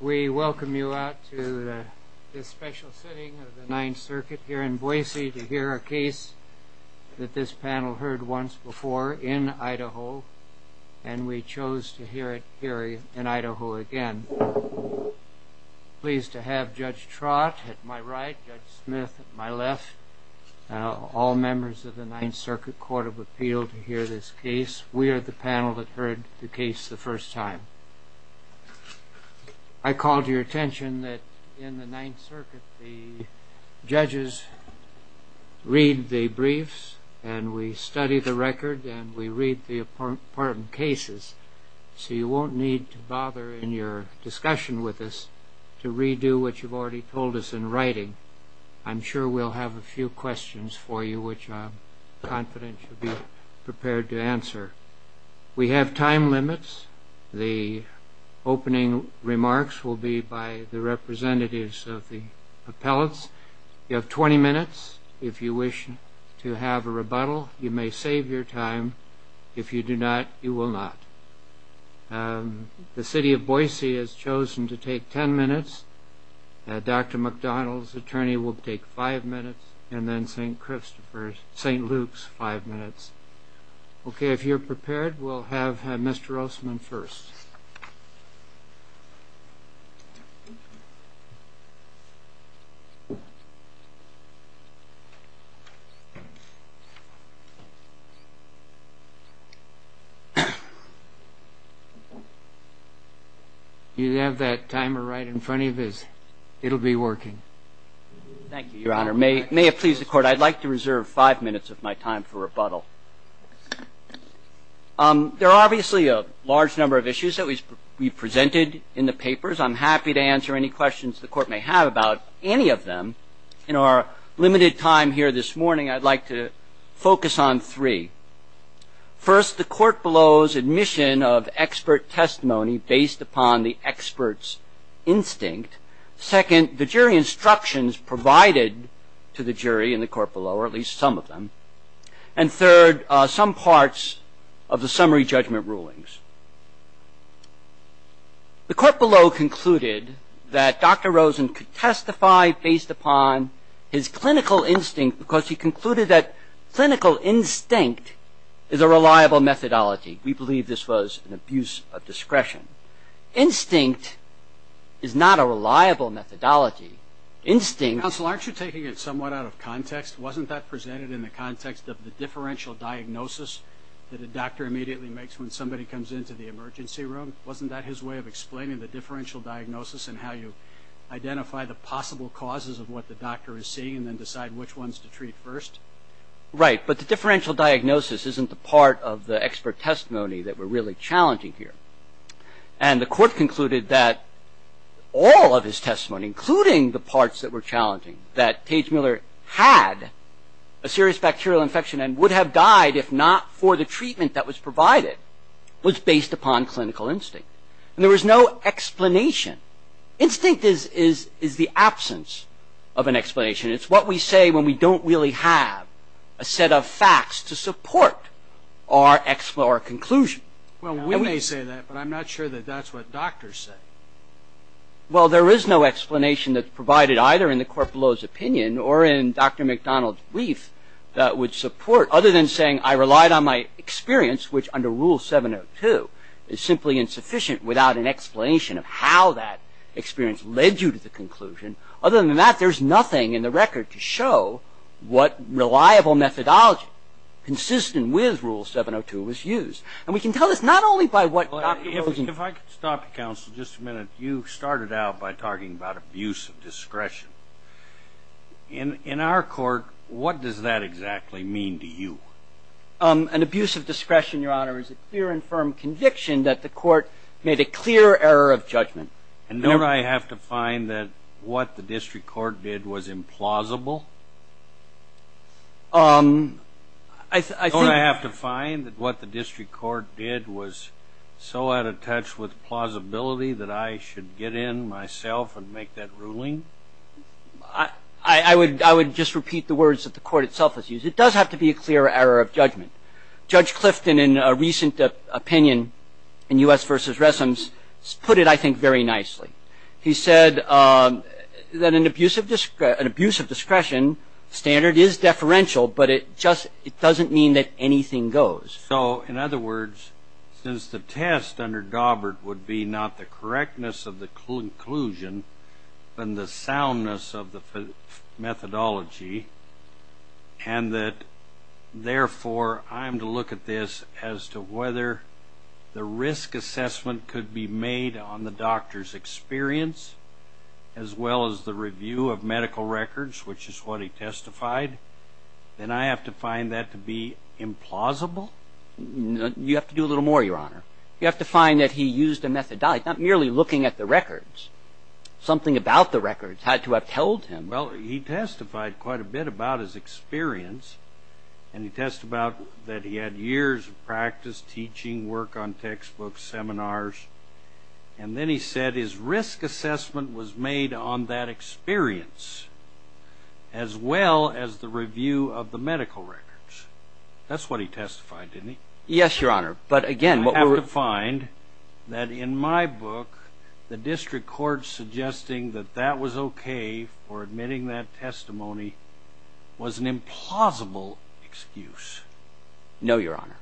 We welcome you out to this special sitting of the Ninth Circuit here in Boise to hear a case that this panel heard once before in Idaho, and we chose to hear it here in Idaho again. Pleased to have Judge Trott at my right, Judge Smith at my left, all members of the Ninth Circuit Court of Appeal to hear this case. We are the panel that heard the case the first time. I call to your attention that in the Ninth Circuit the judges read the briefs and we study the record and we read the important cases, so you won't need to bother in your discussion with us to redo what you've already told us in writing. I'm sure we'll have a few questions for you which I'm confident you'll be prepared to answer. We have time limits. The opening remarks will be by the representatives of the appellates. You have 20 minutes if you wish to have a rebuttal. You may save your time. If you do not, you will not. The City of Boise has chosen to take 10 minutes. Dr. McDonald's attorney will take five minutes, and then St. Luke's five minutes. Okay, if you're prepared, we'll have Mr. Rossman first. You have that timer right in front of you. It'll be working. Thank you, Your Honor. May it please the Court, I'd like to reserve five minutes of my time for rebuttal. There are obviously a large number of issues that we've presented in the papers. I'm happy to answer any questions the Court may have about any of them. In our limited time here this morning, I'd like to focus on three. First, the court below's admission of expert testimony based upon the expert's instinct. Second, the jury instructions provided to the jury in the court below, or at least some of them. And third, some parts of the summary judgment rulings. The court below concluded that Dr. Rosen could testify based upon his clinical instinct, because he concluded that clinical instinct is a reliable methodology. We believe this was an abuse of discretion. Instinct is not a reliable methodology. Instinct... Counsel, aren't you taking it somewhat out of context? Wasn't that presented in the context of the differential diagnosis that the doctor immediately makes when somebody comes into the emergency room? Wasn't that his way of explaining the differential diagnosis and how you identify the possible causes of what the doctor is seeing and decide which ones to treat first? Right, but the differential diagnosis isn't the part of the expert testimony that we're really challenging here. And the court concluded that all of his testimony, including the parts that were challenging, that Paige Mueller had a serious bacterial infection and would have died if not for the treatment that was provided, was based upon clinical instinct. And there was no explanation. Instinct is the absence of an explanation. It's what we say when we don't really have a set of facts to support our conclusion. Well, we may say that, but I'm not sure that that's what doctors say. Well, there is no explanation that's provided either in the court below's opinion or in Dr. McDonald's brief that would support, other than saying I relied on my experience, which under Rule 702 is simply insufficient without an explanation of how that experience led you to the conclusion. Other than that, there's nothing in the record to show what reliable methodology consistent with Rule 702 was used. And we can tell this not only by what Dr. Hilton- If I could stop you, counsel, just a minute. You started out by talking about abuse of discretion. In our court, what does that exactly mean to you? An abuse of discretion, Your Honor, is a clear and firm conviction that the court made a clear error of judgment. And don't I have to find that what the district court did was implausible? I think- Don't I have to find that what the district court did was so out of touch with plausibility that I should get in myself and make that ruling? I would just repeat the words that the court itself has used. It does have to be a clear error of judgment. Judge Clifton, in a recent opinion in U.S. v. Wessons, put it, I think, very nicely. He said that an abuse of discretion standard is deferential, but it doesn't mean that anything goes. So, in other words, since the test under Gobbert would be not the correctness of the conclusion, but the soundness of the methodology, and that, therefore, I'm to look at this as to whether the risk assessment could be made on the doctor's experience, as well as the review of medical records, which is what he testified, then I have to find that to be implausible? You have to do a little more, Your Honor. You have to find that he used a methodology, not merely looking at the records. Something about the records had to have told him. Well, he testified quite a bit about his experience, and he testified that he had years of practice, teaching, work on textbooks, seminars. And then he said his risk assessment was made on that experience, as well as the review of the medical records. That's what he testified, didn't he? Yes, Your Honor. But, again, what we would find that in my book, the district court suggesting that that was okay for admitting that testimony was an implausible excuse. No, Your Honor.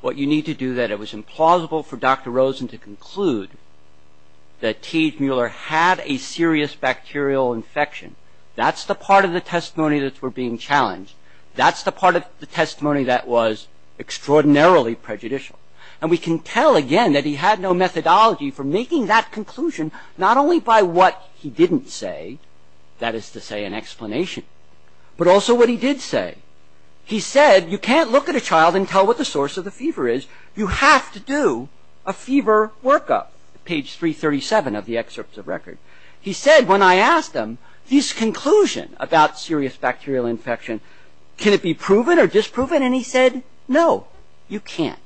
What you need to do that it was implausible for Dr. Rosen to conclude that T.H. Mueller had a serious bacterial infection. That's the part of the testimony that we're being challenged. That's the part of the testimony that was extraordinarily prejudicial. And we can tell, again, that he had no methodology for making that conclusion, not only by what he didn't say, that is to say an explanation, but also what he did say. He said, you can't look at a child and tell what the source of the fever is. You have to do a fever workup, page 337 of the excerpts of record. He said, when I asked him his conclusion about serious bacterial infection, can it be proven or disproven? And he said, no, you can't.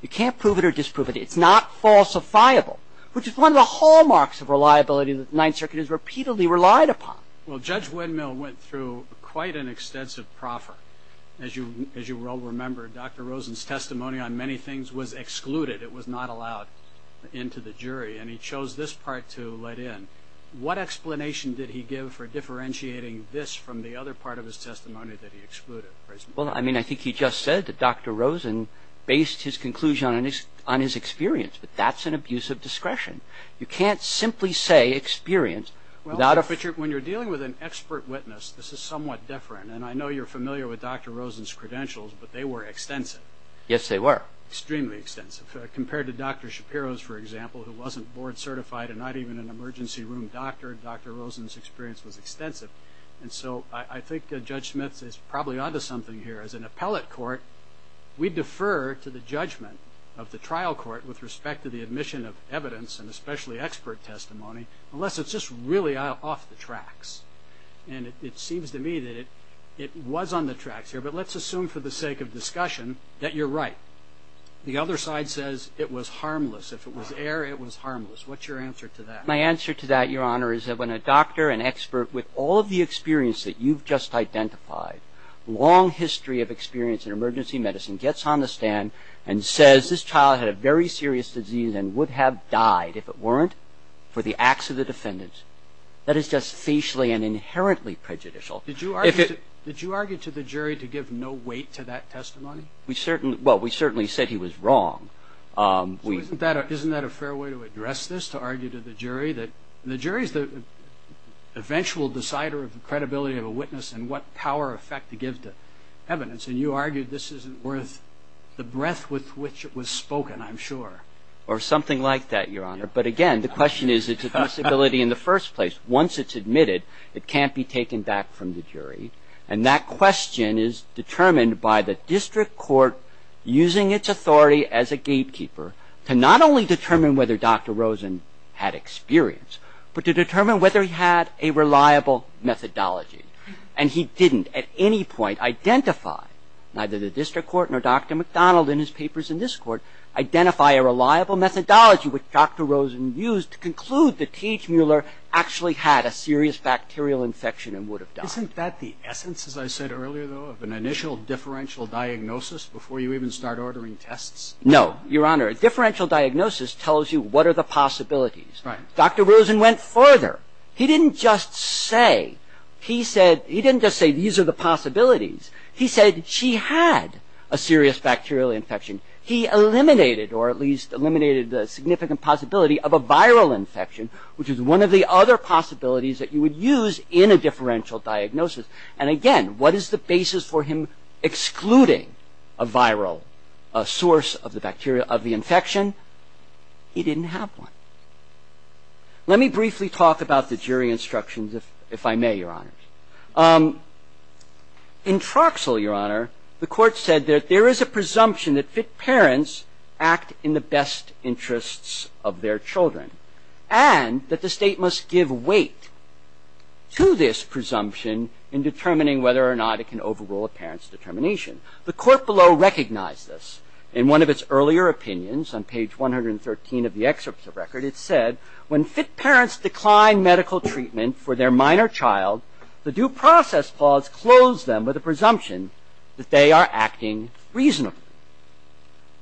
You can't prove it or disprove it. It's not falsifiable, which is one of the hallmarks of reliability that the Ninth Circuit has repeatedly relied upon. Well, Judge Windmill went through quite an extensive proffer. As you well remember, Dr. Rosen's testimony on many things was excluded. It was not allowed into the jury, and he chose this part to let in. What explanation did he give for differentiating this from the other part of his testimony that he excluded? Well, I mean, I think he just said that Dr. Rosen based his conclusion on his experience, but that's an abuse of discretion. You can't simply say experience without a- Well, Richard, when you're dealing with an expert witness, this is somewhat different, and I know you're familiar with Dr. Rosen's credentials, but they were extensive. Yes, they were. Extremely extensive. Compared to Dr. Shapiro's, for example, who wasn't board certified and not even an emergency room doctor, Dr. Rosen's experience was extensive, and so I think Judge Smith is probably onto something here. As an appellate court, we defer to the judgment of the trial court with respect to the admission of evidence, and especially expert testimony, unless it's just really off the tracks. And it seems to me that it was on the tracks here, but let's assume for the sake of discussion that you're right. The other side says it was harmless. If it was air, it was harmless. What's your answer to that? My answer to that, Your Honor, is that when a doctor, an expert, with all of the experience that you've just identified, long history of experience in emergency medicine, gets on the stand and says this child had a very serious disease and would have died if it weren't for the acts of the defendants, that is just facially and inherently prejudicial. Did you argue to the jury to give no weight to that testimony? Well, we certainly said he was wrong. Isn't that a fair way to address this, to argue to the jury? The jury is the eventual decider of the credibility of a witness and what power or effect to give to evidence, and you argue this isn't worth the breadth with which it was spoken, I'm sure. Or something like that, Your Honor. But, again, the question is it's a disability in the first place. Once it's admitted, it can't be taken back from the jury, and that question is determined by the district court using its authority as a gatekeeper to not only determine whether Dr. Rosen had experience, but to determine whether he had a reliable methodology. And he didn't at any point identify, neither the district court nor Dr. McDonald in his papers in this court, identify a reliable methodology which Dr. Rosen used to conclude that T.H. Mueller actually had a serious bacterial infection and would have died. Isn't that the essence, as I said earlier, though, of an initial differential diagnosis before you even start ordering tests? No, Your Honor. A differential diagnosis tells you what are the possibilities. Dr. Rosen went further. He didn't just say these are the possibilities. He said she had a serious bacterial infection. He eliminated, or at least eliminated the significant possibility of a viral infection, which is one of the other possibilities that you would use in a differential diagnosis. And again, what is the basis for him excluding a viral source of the infection? He didn't have one. Let me briefly talk about the jury instructions, if I may, Your Honor. In Troxell, Your Honor, the court said that there is a presumption that parents act in the best interests of their children and that the state must give weight to this presumption in determining whether or not it can overrule a parent's determination. The court below recognized this. In one of its earlier opinions, on page 113 of the excerpts of record, it said, when fit parents decline medical treatment for their minor child, the due process clause closed them with a presumption that they are acting reasonably.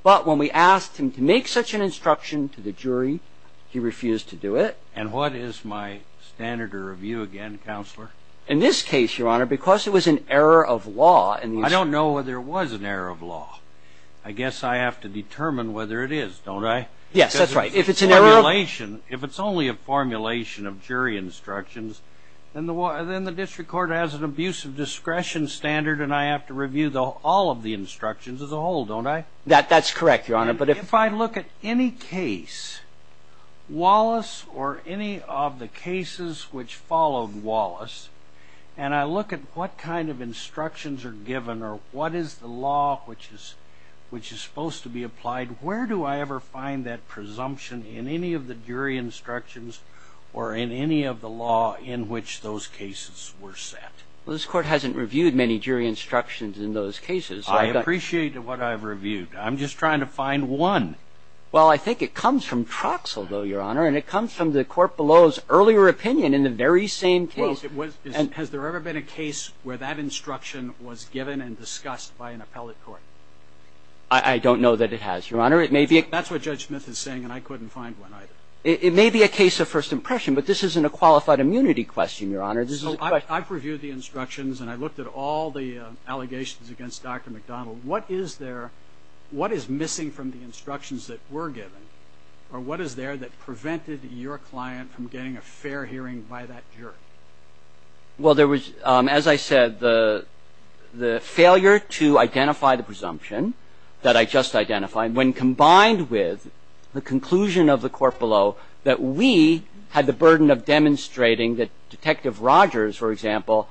But when we asked him to make such an instruction to the jury, he refused to do it. And what is my standard of review again, Counselor? In this case, Your Honor, because it was an error of law... I don't know whether it was an error of law. I guess I have to determine whether it is, don't I? Yes, that's right. If it's an error of... If it's only a formulation of jury instructions, then the district court has an abuse of discretion standard and I have to review all of the instructions as a whole, don't I? That's correct, Your Honor, but if... If I look at any case, Wallace or any of the cases which followed Wallace, and I look at what kind of instructions are given or what is the law which is supposed to be applied, where do I ever find that presumption in any of the jury instructions or in any of the law in which those cases were set? This court hasn't reviewed many jury instructions in those cases. I appreciate what I've reviewed. I'm just trying to find one. Well, I think it comes from Troxel, though, Your Honor, and it comes from the court below's earlier opinion in the very same case. Has there ever been a case where that instruction was given and discussed by an appellate court? I don't know that it has, Your Honor. That's what Judge Smith is saying, and I couldn't find one either. It may be a case of first impression, but this isn't a qualified immunity question, Your Honor. I've reviewed the instructions and I've looked at all the allegations against Dr. McDonald. What is there... What is missing from the instructions that were given, or what is there that prevented your client from getting a fair hearing by that jury? Well, there was, as I said, the failure to identify the presumption that I just identified, when combined with the conclusion of the court below that we had the burden of demonstrating that Detective Rogers, for example,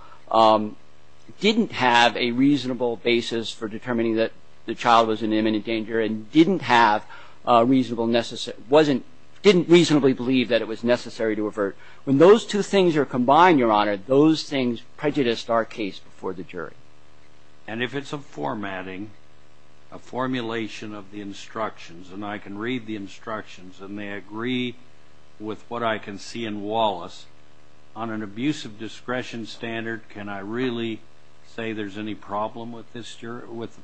didn't have a reasonable basis for determining that the child was in imminent danger and didn't have a reasonable... didn't reasonably believe that it was necessary to avert. When those two things are combined, Your Honor, those things prejudiced our case before the jury. And if it's a formatting, a formulation of the instructions, and I can read the instructions and they agree with what I can see in Wallace, on an abusive discretion standard, can I really say there's any problem with the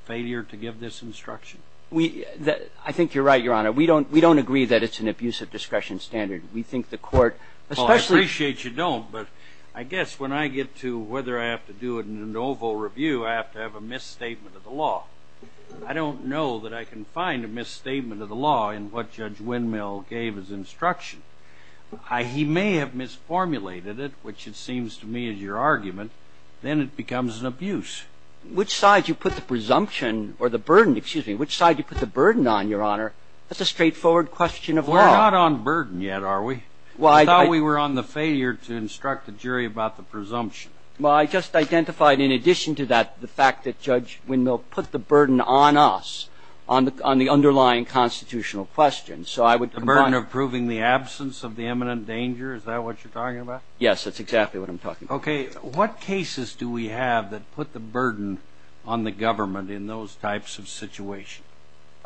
failure to give this instruction? I think you're right, Your Honor. We don't agree that it's an abusive discretion standard. We think the court, especially... Well, I appreciate you don't, but I guess when I get to whether I have to do it in an oval review, I have to have a misstatement of the law. I don't know that I can find a misstatement of the law in what Judge Windmill gave as instruction. He may have misformulated it, which it seems to me is your argument. Then it becomes an abuse. Which side you put the presumption, or the burden, excuse me, which side you put the burden on, Your Honor? That's a straightforward question of law. We're not on burden yet, are we? I thought we were on the failure to instruct the jury about the presumption. Well, I just identified in addition to that the fact that Judge Windmill put the burden on us, on the underlying constitutional question, so I would... The burden of proving the absence of the imminent danger, is that what you're talking about? Yes, that's exactly what I'm talking about. Okay. What cases do we have that put the burden on the government in those types of situations?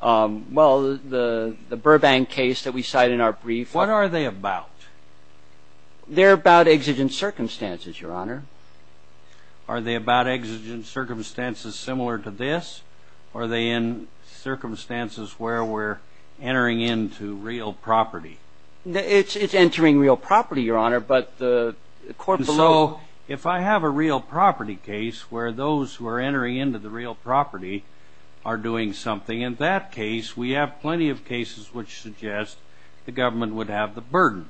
Well, the Burbank case that we cited in our brief... What are they about? They're about exigent circumstances, Your Honor. Are they about exigent circumstances similar to this? Are they in circumstances where we're entering into real property? It's entering real property, Your Honor, but the court below... In that case, we have plenty of cases which suggest the government would have the burden.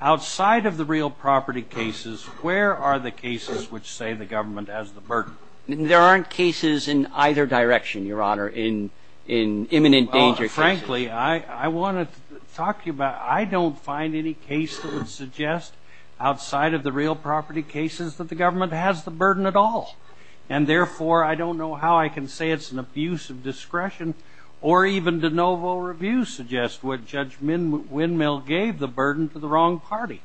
Outside of the real property cases, where are the cases which say the government has the burden? There aren't cases in either direction, Your Honor, in imminent danger cases. Frankly, I want to talk to you about... I don't find any cases that suggest outside of the real property cases that the government has the burden at all. And therefore, I don't know how I can say it's an abuse of discretion, or even de novo reviews suggest what Judge Windmill gave the burden to the wrong party.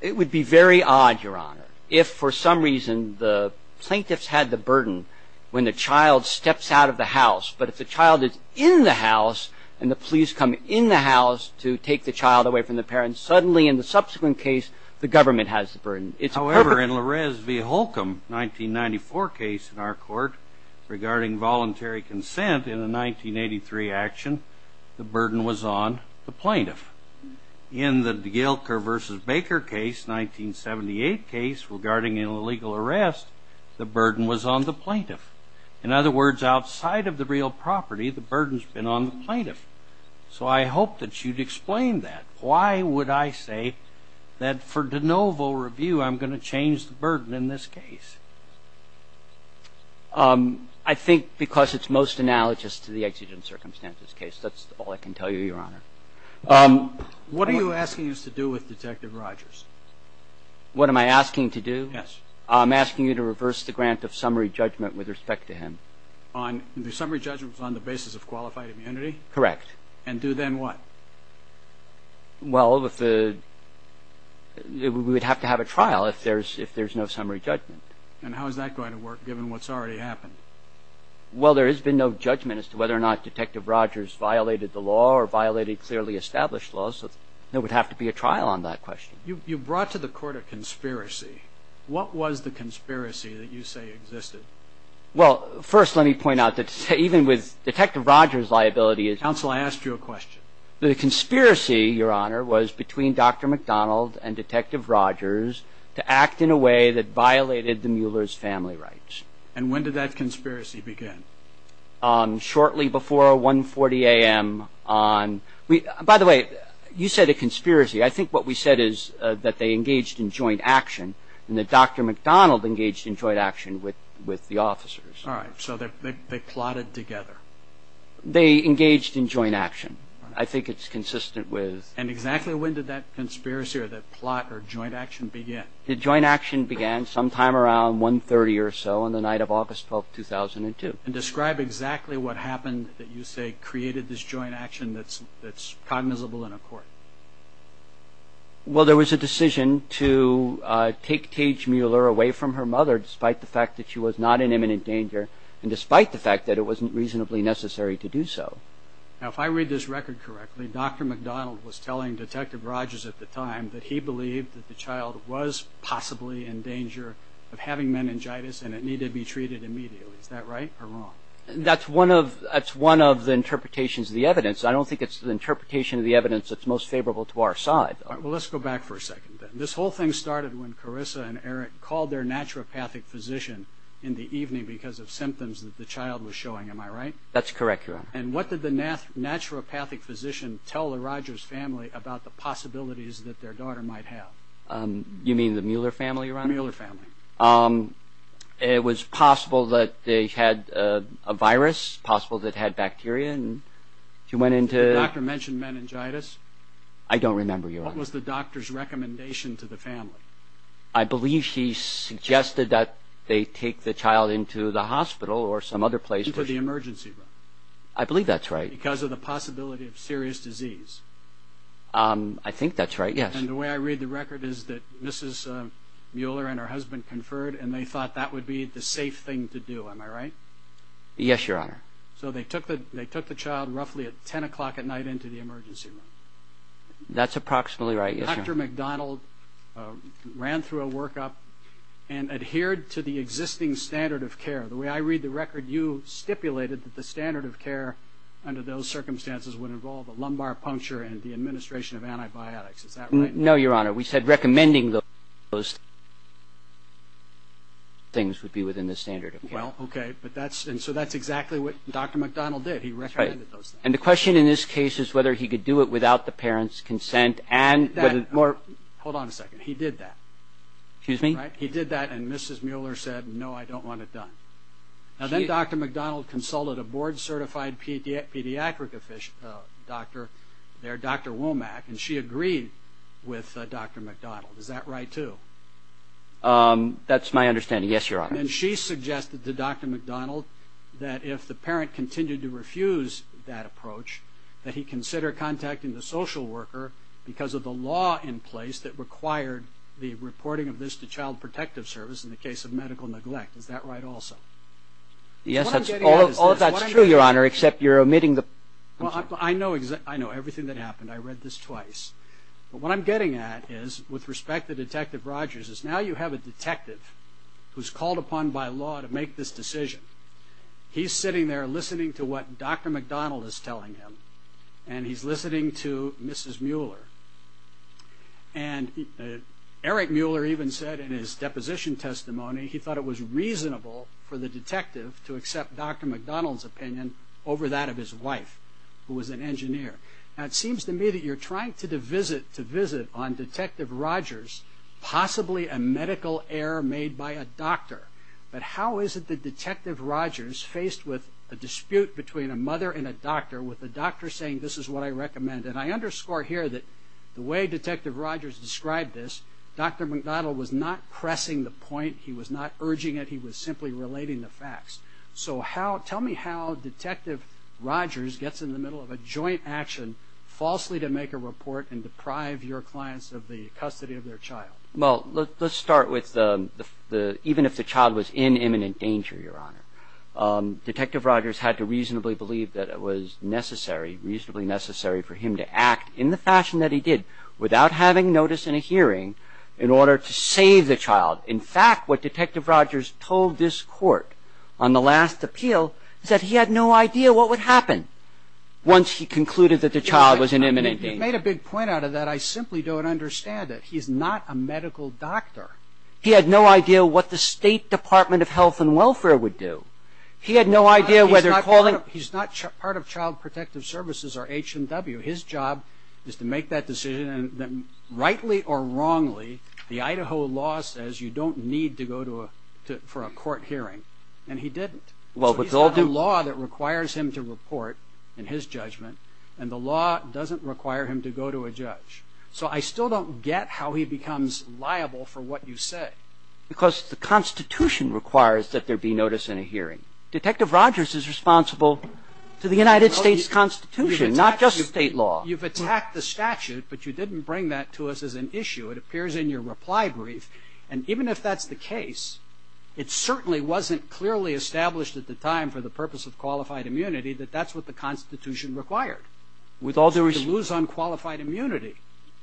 It would be very odd, Your Honor, if for some reason the plaintiffs had the burden when the child steps out of the house, but if the child is in the house and the police come in the house to take the child away from the parents, suddenly in the subsequent case, the government has the burden. However, in Larez v. Holcomb, 1994 case in our court, regarding voluntary consent in the 1983 action, the burden was on the plaintiff. In the Gilker v. Baker case, 1978 case, regarding illegal arrest, the burden was on the plaintiff. In other words, outside of the real property, the burden's been on the plaintiff. So I hope that you'd explain that. Why would I say that for de novo review I'm going to change the burden in this case? I think because it's most analogous to the exigent circumstances case. That's all I can tell you, Your Honor. What are you asking us to do with Detective Rogers? What am I asking to do? Yes. I'm asking you to reverse the grant of summary judgment with respect to him. The summary judgment was on the basis of qualified immunity? Correct. And do then what? Well, we would have to have a trial if there's no summary judgment. And how is that going to work, given what's already happened? Well, there has been no judgment as to whether or not Detective Rogers violated the law or violated clearly established laws, so there would have to be a trial on that question. You brought to the court a conspiracy. What was the conspiracy that you say existed? Well, first let me point out that even with Detective Rogers' liability is Counsel, I asked you a question. The conspiracy, Your Honor, was between Dr. McDonald and Detective Rogers to act in a way that violated the Mueller's family rights. And when did that conspiracy begin? Shortly before 1.40 a.m. on By the way, you said a conspiracy. I think what we said is that they engaged in joint action and that Dr. McDonald engaged in joint action with the officers. All right, so they plotted together. They engaged in joint action. I think it's consistent with And exactly when did that conspiracy or that plot or joint action begin? The joint action began sometime around 1.30 a.m. or so on the night of August 12, 2002. Describe exactly what happened that you say created this joint action that's cognizable in a court. Well, there was a decision to take Paige Mueller away from her mother despite the fact that she was not in imminent danger and despite the fact that it wasn't reasonably necessary to do so. Now, if I read this record correctly, Dr. McDonald was telling Detective Rogers at the time that he believed that the child was possibly in danger of having meningitis and it needed to be treated immediately. Is that right or wrong? That's one of the interpretations of the evidence. I don't think it's the interpretation of the evidence that's most favorable to our side. All right, well, let's go back for a second. This whole thing started when Carissa and Eric called their naturopathic physician in the evening because of symptoms that the child was showing. Am I right? That's correct, Your Honor. And what did the naturopathic physician tell the Rogers family about the possibilities that their daughter might have? You mean the Mueller family, Your Honor? The Mueller family. It was possible that they had a virus, possible that it had bacteria. Did the doctor mention meningitis? I don't remember, Your Honor. What was the doctor's recommendation to the family? I believe she suggested that they take the child into the hospital or some other place. She said the emergency room. I believe that's right. Because of the possibility of serious disease. I think that's right, yes. And the way I read the record is that Mrs. Mueller and her husband conferred, and they thought that would be the safe thing to do. Am I right? Yes, Your Honor. So they took the child roughly at 10 o'clock at night into the emergency room. That's approximately right, yes, Your Honor. Dr. McDonald ran through a workup and adhered to the existing standard of care. The way I read the record, you stipulated that the standard of care under those circumstances would involve a lumbar puncture and the administration of antibiotics. Is that right? No, Your Honor. We said recommending those things would be within the standard of care. Well, okay. And so that's exactly what Dr. McDonald did. He recommended those things. And the question in this case is whether he could do it without the parents' consent. Hold on a second. He did that. Excuse me? He did that, and Mrs. Mueller said, no, I don't want it done. Now, then Dr. McDonald consulted a board-certified pediatric doctor there, Dr. Womack, and she agreed with Dr. McDonald. Is that right, too? That's my understanding, yes, Your Honor. And she suggested to Dr. McDonald that if the parent continued to refuse that approach, that he consider contacting the social worker because of the law in place that required the reporting of this to Child Protective Service in the case of medical neglect. Is that right also? Yes, all of that's true, Your Honor, except you're omitting the... Well, I know everything that happened. I read this twice. But what I'm getting at is, with respect to Detective Rogers, is now you have a detective who's called upon by law to make this decision. He's sitting there listening to what Dr. McDonald is telling him, and he's listening to Mrs. Mueller. And Eric Mueller even said in his deposition testimony he thought it was reasonable for the detective to accept Dr. McDonald's opinion over that of his wife, who was an engineer. Now, it seems to me that you're trying to visit on Detective Rogers possibly a medical error made by a doctor. But how is it that Detective Rogers, faced with a dispute between a mother and a doctor, with the doctor saying this is what I recommend? And I underscore here that the way Detective Rogers described this, Dr. McDonald was not pressing the point. He was not urging it. He was simply relating the facts. So tell me how Detective Rogers gets in the middle of a joint action falsely to make a report and deprive your clients of the custody of their child. Well, let's start with even if the child was in imminent danger, Your Honor. Detective Rogers had to reasonably believe that it was necessary, reasonably necessary, for him to act in the fashion that he did, without having notice in a hearing, in order to save the child. In fact, what Detective Rogers told this court on the last appeal, is that he had no idea what would happen once he concluded that the child was in imminent danger. He made a big point out of that. I simply don't understand it. He's not a medical doctor. He had no idea what the State Department of Health and Welfare would do. He had no idea whether calling... He's not part of Child Protective Services or HMW. His job is to make that decision. Rightly or wrongly, the Idaho law says you don't need to go to a... for a court hearing. And he didn't. Well, but all the law that requires him to report in his judgment, and the law doesn't require him to go to a judge. So I still don't get how he becomes liable for what you said. Because the Constitution requires that there be notice in a hearing. Detective Rogers is responsible for the United States Constitution, not just state law. Well, you've attacked the statute, but you didn't bring that to us as an issue. It appears in your reply brief. And even if that's the case, it certainly wasn't clearly established at the time for the purpose of qualified immunity that that's what the Constitution required, to lose unqualified immunity.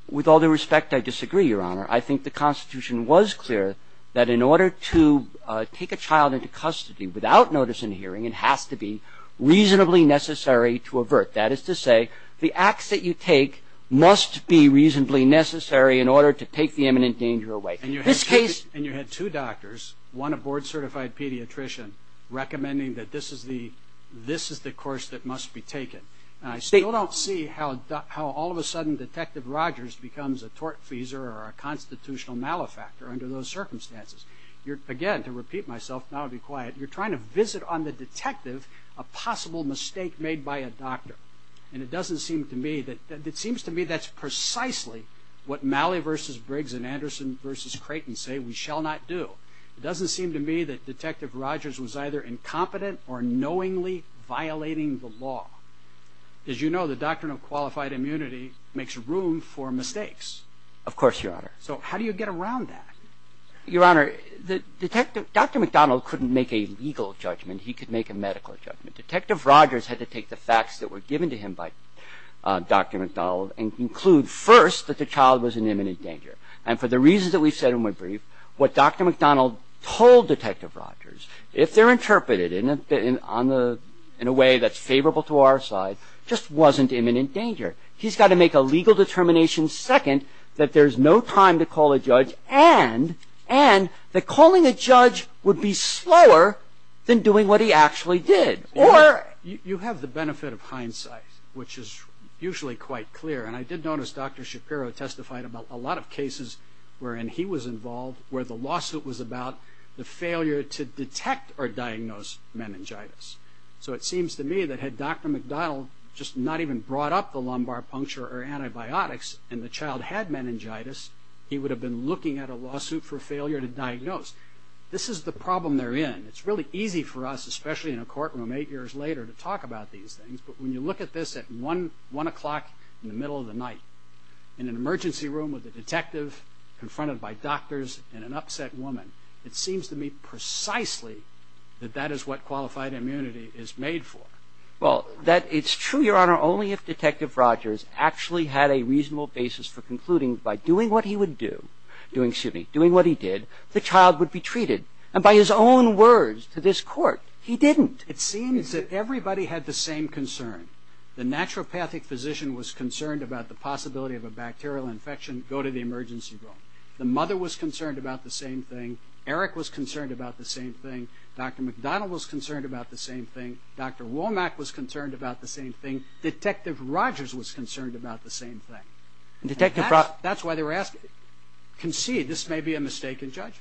With all due respect, I disagree, Your Honor. I think the Constitution was clear that in order to take a child into custody without notice in a hearing, it has to be reasonably necessary to avert. That is to say, the acts that you take must be reasonably necessary in order to take the imminent danger away. In this case... And you had two doctors, one a board-certified pediatrician, recommending that this is the course that must be taken. And I still don't see how all of a sudden Detective Rogers becomes a tortfeasor or a constitutional malefactor under those circumstances. Again, to repeat myself, and I'll be quiet, you're trying to visit on the detective a possible mistake made by a doctor. And it doesn't seem to me that... It seems to me that's precisely what Malley v. Briggs and Anderson v. Creighton say we shall not do. It doesn't seem to me that Detective Rogers was either incompetent or knowingly violating the law. As you know, the doctrine of qualified immunity makes room for mistakes. Of course, Your Honor. So how do you get around that? Your Honor, Detective... Dr. McDonald couldn't make a legal judgment. He could make a medical judgment. Detective Rogers had to take the facts that were given to him by Dr. McDonald and conclude first that the child was in imminent danger. And for the reasons that we've said in my brief, what Dr. McDonald told Detective Rogers, if they're interpreted in a way that's favorable to our side, just wasn't imminent danger. He's got to make a legal determination second that there's no time to call a judge and that calling a judge would be slower than doing what he actually did. Or... You have the benefit of hindsight, which is usually quite clear. And I did notice Dr. Shapiro testified about a lot of cases wherein he was involved, where the lawsuit was about the failure to detect or diagnose meningitis. So it seems to me that had Dr. McDonald just not even brought up the lumbar puncture or antibiotics and the child had meningitis, he would have been looking at a lawsuit for failure to diagnose. This is the problem they're in. It's really easy for us, especially in a courtroom eight years later, to talk about these things. But when you look at this at 1 o'clock in the middle of the night, in an emergency room with a detective confronted by doctors and an upset woman, it seems to me precisely that that is what qualified immunity is made for. Well, it's true, Your Honor, only if Detective Rogers actually had a reasonable basis for concluding by doing what he would do, doing what he did, the child would be treated. And by his own words to this court, he didn't. It seems that everybody had the same concern. The naturopathic physician was concerned about the possibility of a bacterial infection go to the emergency room. The mother was concerned about the same thing. Eric was concerned about the same thing. Dr. McDonald was concerned about the same thing. Dr. Womack was concerned about the same thing. Detective Rogers was concerned about the same thing. That's why they were asking. Concede, this may be a mistake in judgment.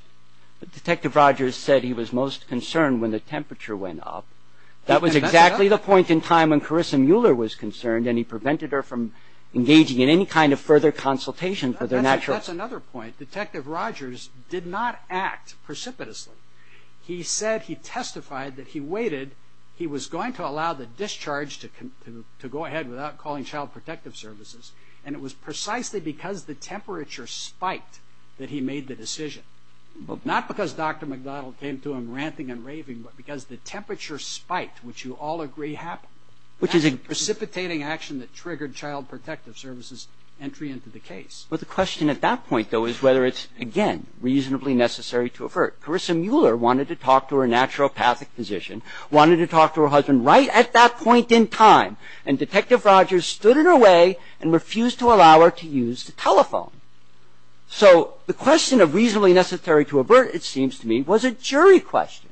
But Detective Rogers said he was most concerned when the temperature went up. That was exactly the point in time when Carissa Mueller was concerned and he prevented her from engaging in any kind of further consultation for their natural health. That's another point. Detective Rogers did not act precipitously. He said he testified that he waited. He was going to allow the discharge to go ahead without calling Child Protective Services, and it was precisely because the temperature spiked that he made the decision, not because Dr. McDonald came to him ranting and raving, but because the temperature spiked, which you all agree happened, which is a precipitating action that triggered Child Protective Services' entry into the case. Well, the question at that point, though, is whether it's, again, reasonably necessary to avert. Carissa Mueller wanted to talk to her naturopathic physician, wanted to talk to her husband right at that point in time, and Detective Rogers stood in her way and refused to allow her to use the telephone. So the question of reasonably necessary to avert, it seems to me, was a jury question.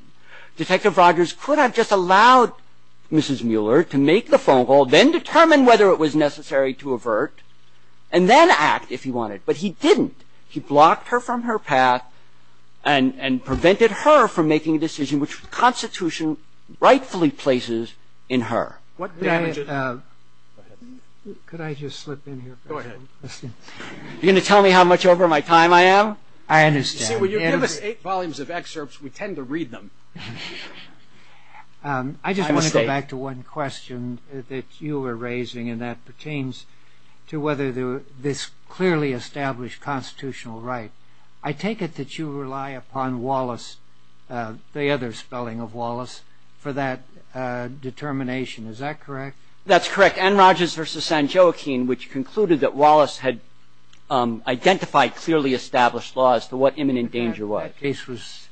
Detective Rogers could have just allowed Mrs. Mueller to make the phone call, then determine whether it was necessary to avert, and then act if he wanted. But he didn't. He blocked her from her path and prevented her from making a decision which the Constitution rightfully places in her. Could I just slip in here? Go ahead. You're going to tell me how much over my time I am? I understand. When you give us eight volumes of excerpts, we tend to read them. I just want to go back to one question that you were raising, and that pertains to whether this clearly established constitutional right, I take it that you rely upon Wallace, the other spelling of Wallace, for that determination. Is that correct? That's correct. It was N. Rogers v. San Joaquin which concluded that Wallace had identified clearly established laws for what imminent danger was. The case was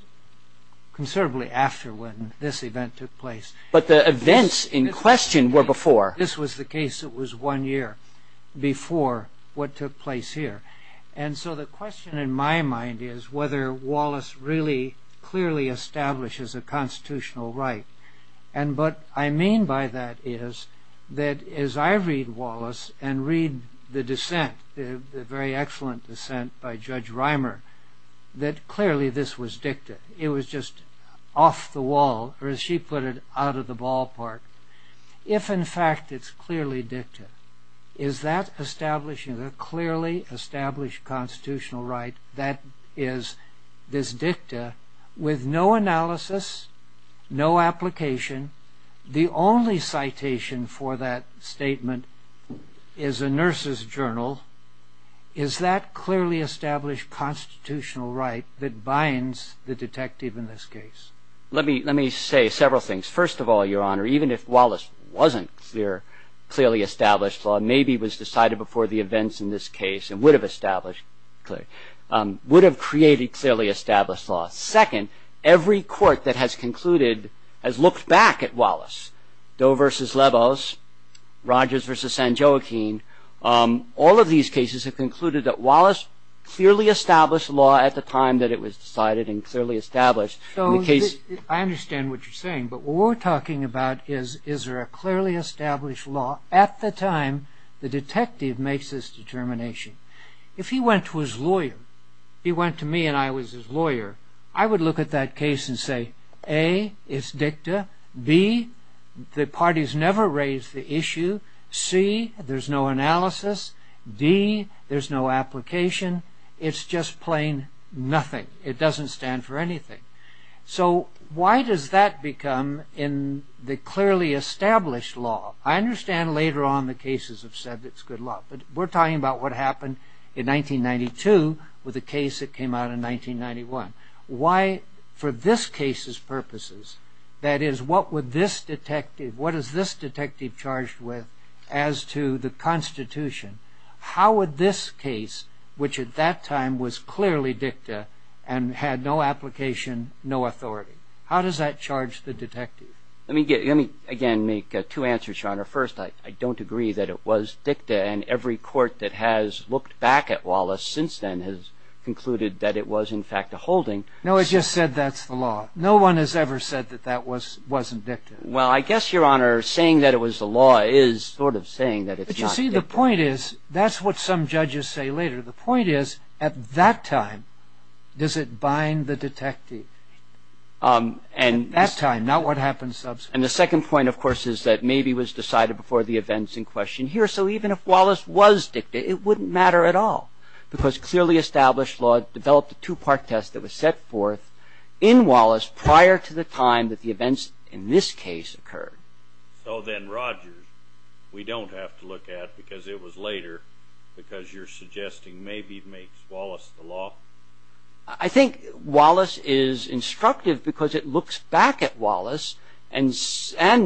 considerably after when this event took place. But the events in question were before. This was the case that was one year before what took place here. And so the question in my mind is whether Wallace really clearly establishes a constitutional right. And what I mean by that is that as I read Wallace and read the dissent, the very excellent dissent by Judge Reimer, that clearly this was dicta. It was just off the wall, or as she put it, out of the ballpark. If, in fact, it's clearly dicta, is that establishing a clearly established constitutional right, that is, this dicta, with no analysis, no application, the only citation for that statement is a nurse's journal, is that clearly established constitutional right that binds the detective in this case? Let me say several things. First of all, Your Honor, even if Wallace wasn't clearly established, maybe was decided before the events in this case and would have established clearly, would have created clearly established law. Second, every court that has concluded, has looked back at Wallace, Doe v. Levos, Rogers v. San Joaquin, all of these cases have concluded that Wallace clearly established law at the time that it was decided and clearly established. I understand what you're saying, but what we're talking about is, is there a clearly established law at the time the detective makes this determination? If he went to his lawyer, he went to me and I was his lawyer, I would look at that case and say, A, it's dicta, B, the parties never raised the issue, C, there's no analysis, D, there's no application, it's just plain nothing, it doesn't stand for anything. So why does that become in the clearly established law? I understand later on the cases have said it's good law, but we're talking about what happened in 1992 with the case that came out in 1991. Why, for this case's purposes, that is, what would this detective, what is this detective charged with as to the Constitution? How would this case, which at that time was clearly dicta and had no application, no authority, how does that charge the detective? Let me again make two answers, Your Honor. First, I don't agree that it was dicta, and every court that has looked back at Wallace since then has concluded that it was in fact a holding. No, I just said that's the law. No one has ever said that that wasn't dicta. Well, I guess, Your Honor, saying that it was the law is sort of saying that it's not dicta. See, the point is, that's what some judges say later. The point is, at that time, does it bind the detective? At that time, not what happens subsequently. And the second point, of course, is that maybe it was decided before the events in question here. So even if Wallace was dicta, it wouldn't matter at all, because clearly established law developed a two-part test that was set forth in Wallace prior to the time that the events in this case occurred. So then Rogers, we don't have to look at, because it was later, because you're suggesting maybe it makes Wallace the law? I think Wallace is instructive because it looks back at Wallace, and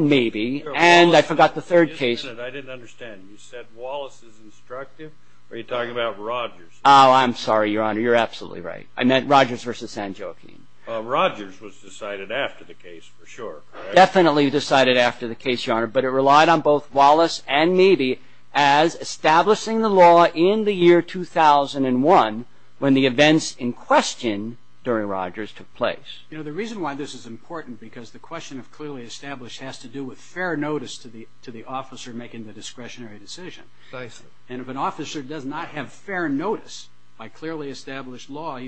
maybe, and I forgot the third case. I didn't understand. You said Wallace is instructive? Are you talking about Rogers? Oh, I'm sorry, Your Honor. You're absolutely right. I meant Rogers versus San Joaquin. Rogers was decided after the case, for sure. Definitely decided after the case, Your Honor, but it relied on both Wallace and maybe as establishing the law in the year 2001 when the events in question during Rogers took place. You know, the reason why this is important, because the question of clearly established has to do with fair notice to the officer making the discretionary decision. Precisely. And if an officer does not have fair notice by clearly established law,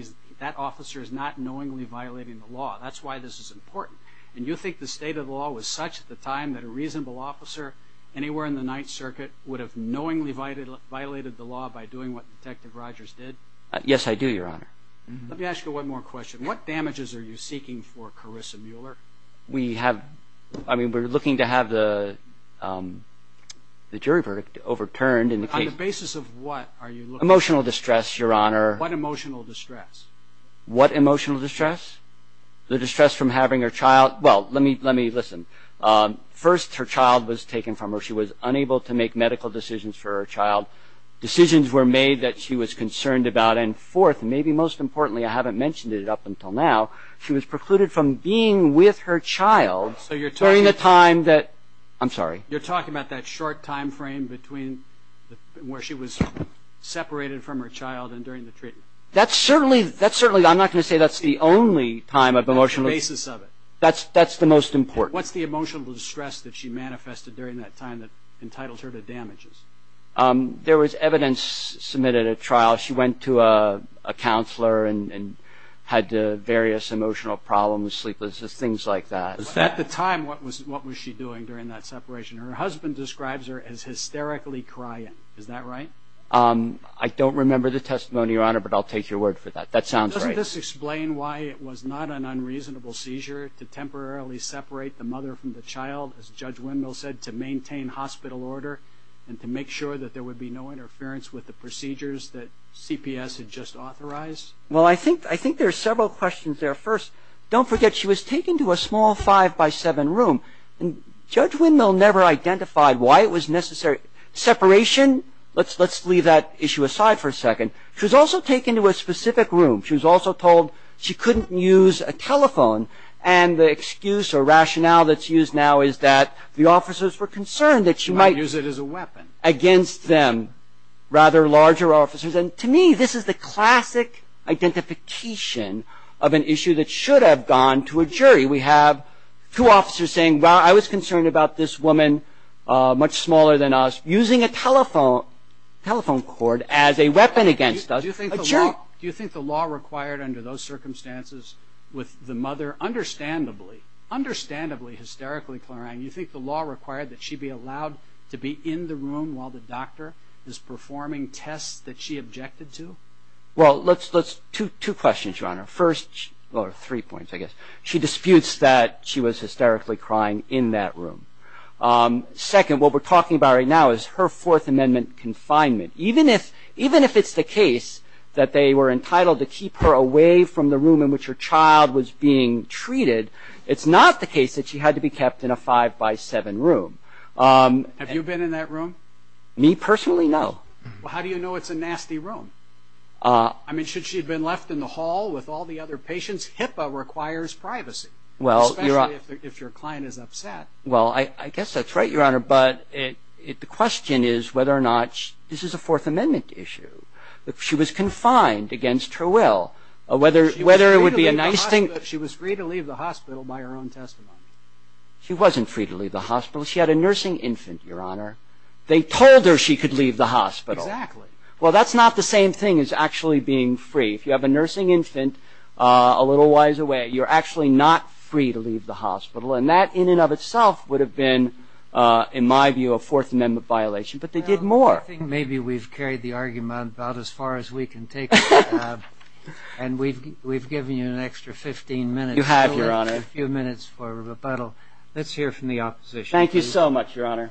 that officer is not knowingly violating the law. That's why this is important. And you think the state of the law was such at the time that a reasonable officer anywhere in the Ninth Circuit would have knowingly violated the law by doing what Detective Rogers did? Yes, I do, Your Honor. Let me ask you one more question. What damages are you seeking for Carissa Mueller? We have, I mean, we're looking to have the jury verdict overturned. On the basis of what are you looking for? Emotional distress, Your Honor. What emotional distress? What emotional distress? The distress from having her child. Well, let me listen. First, her child was taken from her. She was unable to make medical decisions for her child. Decisions were made that she was concerned about. And fourth, maybe most importantly, I haven't mentioned it up until now, she was precluded from being with her child during the time that – I'm sorry. You're talking about that short time frame between where she was separated from her child and during the treatment? That's certainly – I'm not going to say that's the only time of emotional – On the basis of it. That's the most important. What's the emotional distress that she manifested during that time that entitles her to damages? There was evidence submitted at trial. She went to a counselor and had various emotional problems, sleeplessness, things like that. At the time, what was she doing during that separation? Her husband describes her as hysterically crying. Is that right? I don't remember the testimony, Your Honor, but I'll take your word for that. That sounds right. Doesn't this explain why it was not an unreasonable seizure to temporarily separate the mother from the child, as Judge Windmill said, to maintain hospital order and to make sure that there would be no interference with the procedures that CPS had just authorized? Well, I think there are several questions there. First, don't forget she was taken to a small five-by-seven room. Judge Windmill never identified why it was necessary. Separation, let's leave that issue aside for a second. She was also taken to a specific room. She was also told she couldn't use a telephone, and the excuse or rationale that's used now is that the officers were concerned that she might use it as a weapon against them, rather larger officers. To me, this is the classic identification of an issue that should have gone to a jury. We have two officers saying, I was concerned about this woman, much smaller than us, using a telephone cord as a weapon against us. Do you think the law required under those circumstances with the mother, understandably, understandably hysterically crying, do you think the law required that she be allowed to be in the room while the doctor is performing tests that she objected to? Well, two questions, Your Honor. First, well, three points, I guess. First, she disputes that she was hysterically crying in that room. Second, what we're talking about right now is her Fourth Amendment confinement. Even if it's the case that they were entitled to keep her away from the room in which her child was being treated, it's not the case that she had to be kept in a five-by-seven room. Have you been in that room? Me, personally, no. Well, how do you know it's a nasty room? I mean, should she have been left in the hall with all the other patients? HIPAA requires privacy, especially if your client is upset. Well, I guess that's right, Your Honor, but the question is whether or not this is a Fourth Amendment issue. She was confined against her will. She was free to leave the hospital by her own testimony. She wasn't free to leave the hospital. She had a nursing infant, Your Honor. They told her she could leave the hospital. Exactly. Well, that's not the same thing as actually being free. If you have a nursing infant a little wiser way, you're actually not free to leave the hospital, and that in and of itself would have been, in my view, a Fourth Amendment violation. But they did more. I think maybe we've carried the argument about as far as we can take it. And we've given you an extra 15 minutes. You have, Your Honor. A few minutes for rebuttal. Let's hear from the opposition. Thank you so much, Your Honor.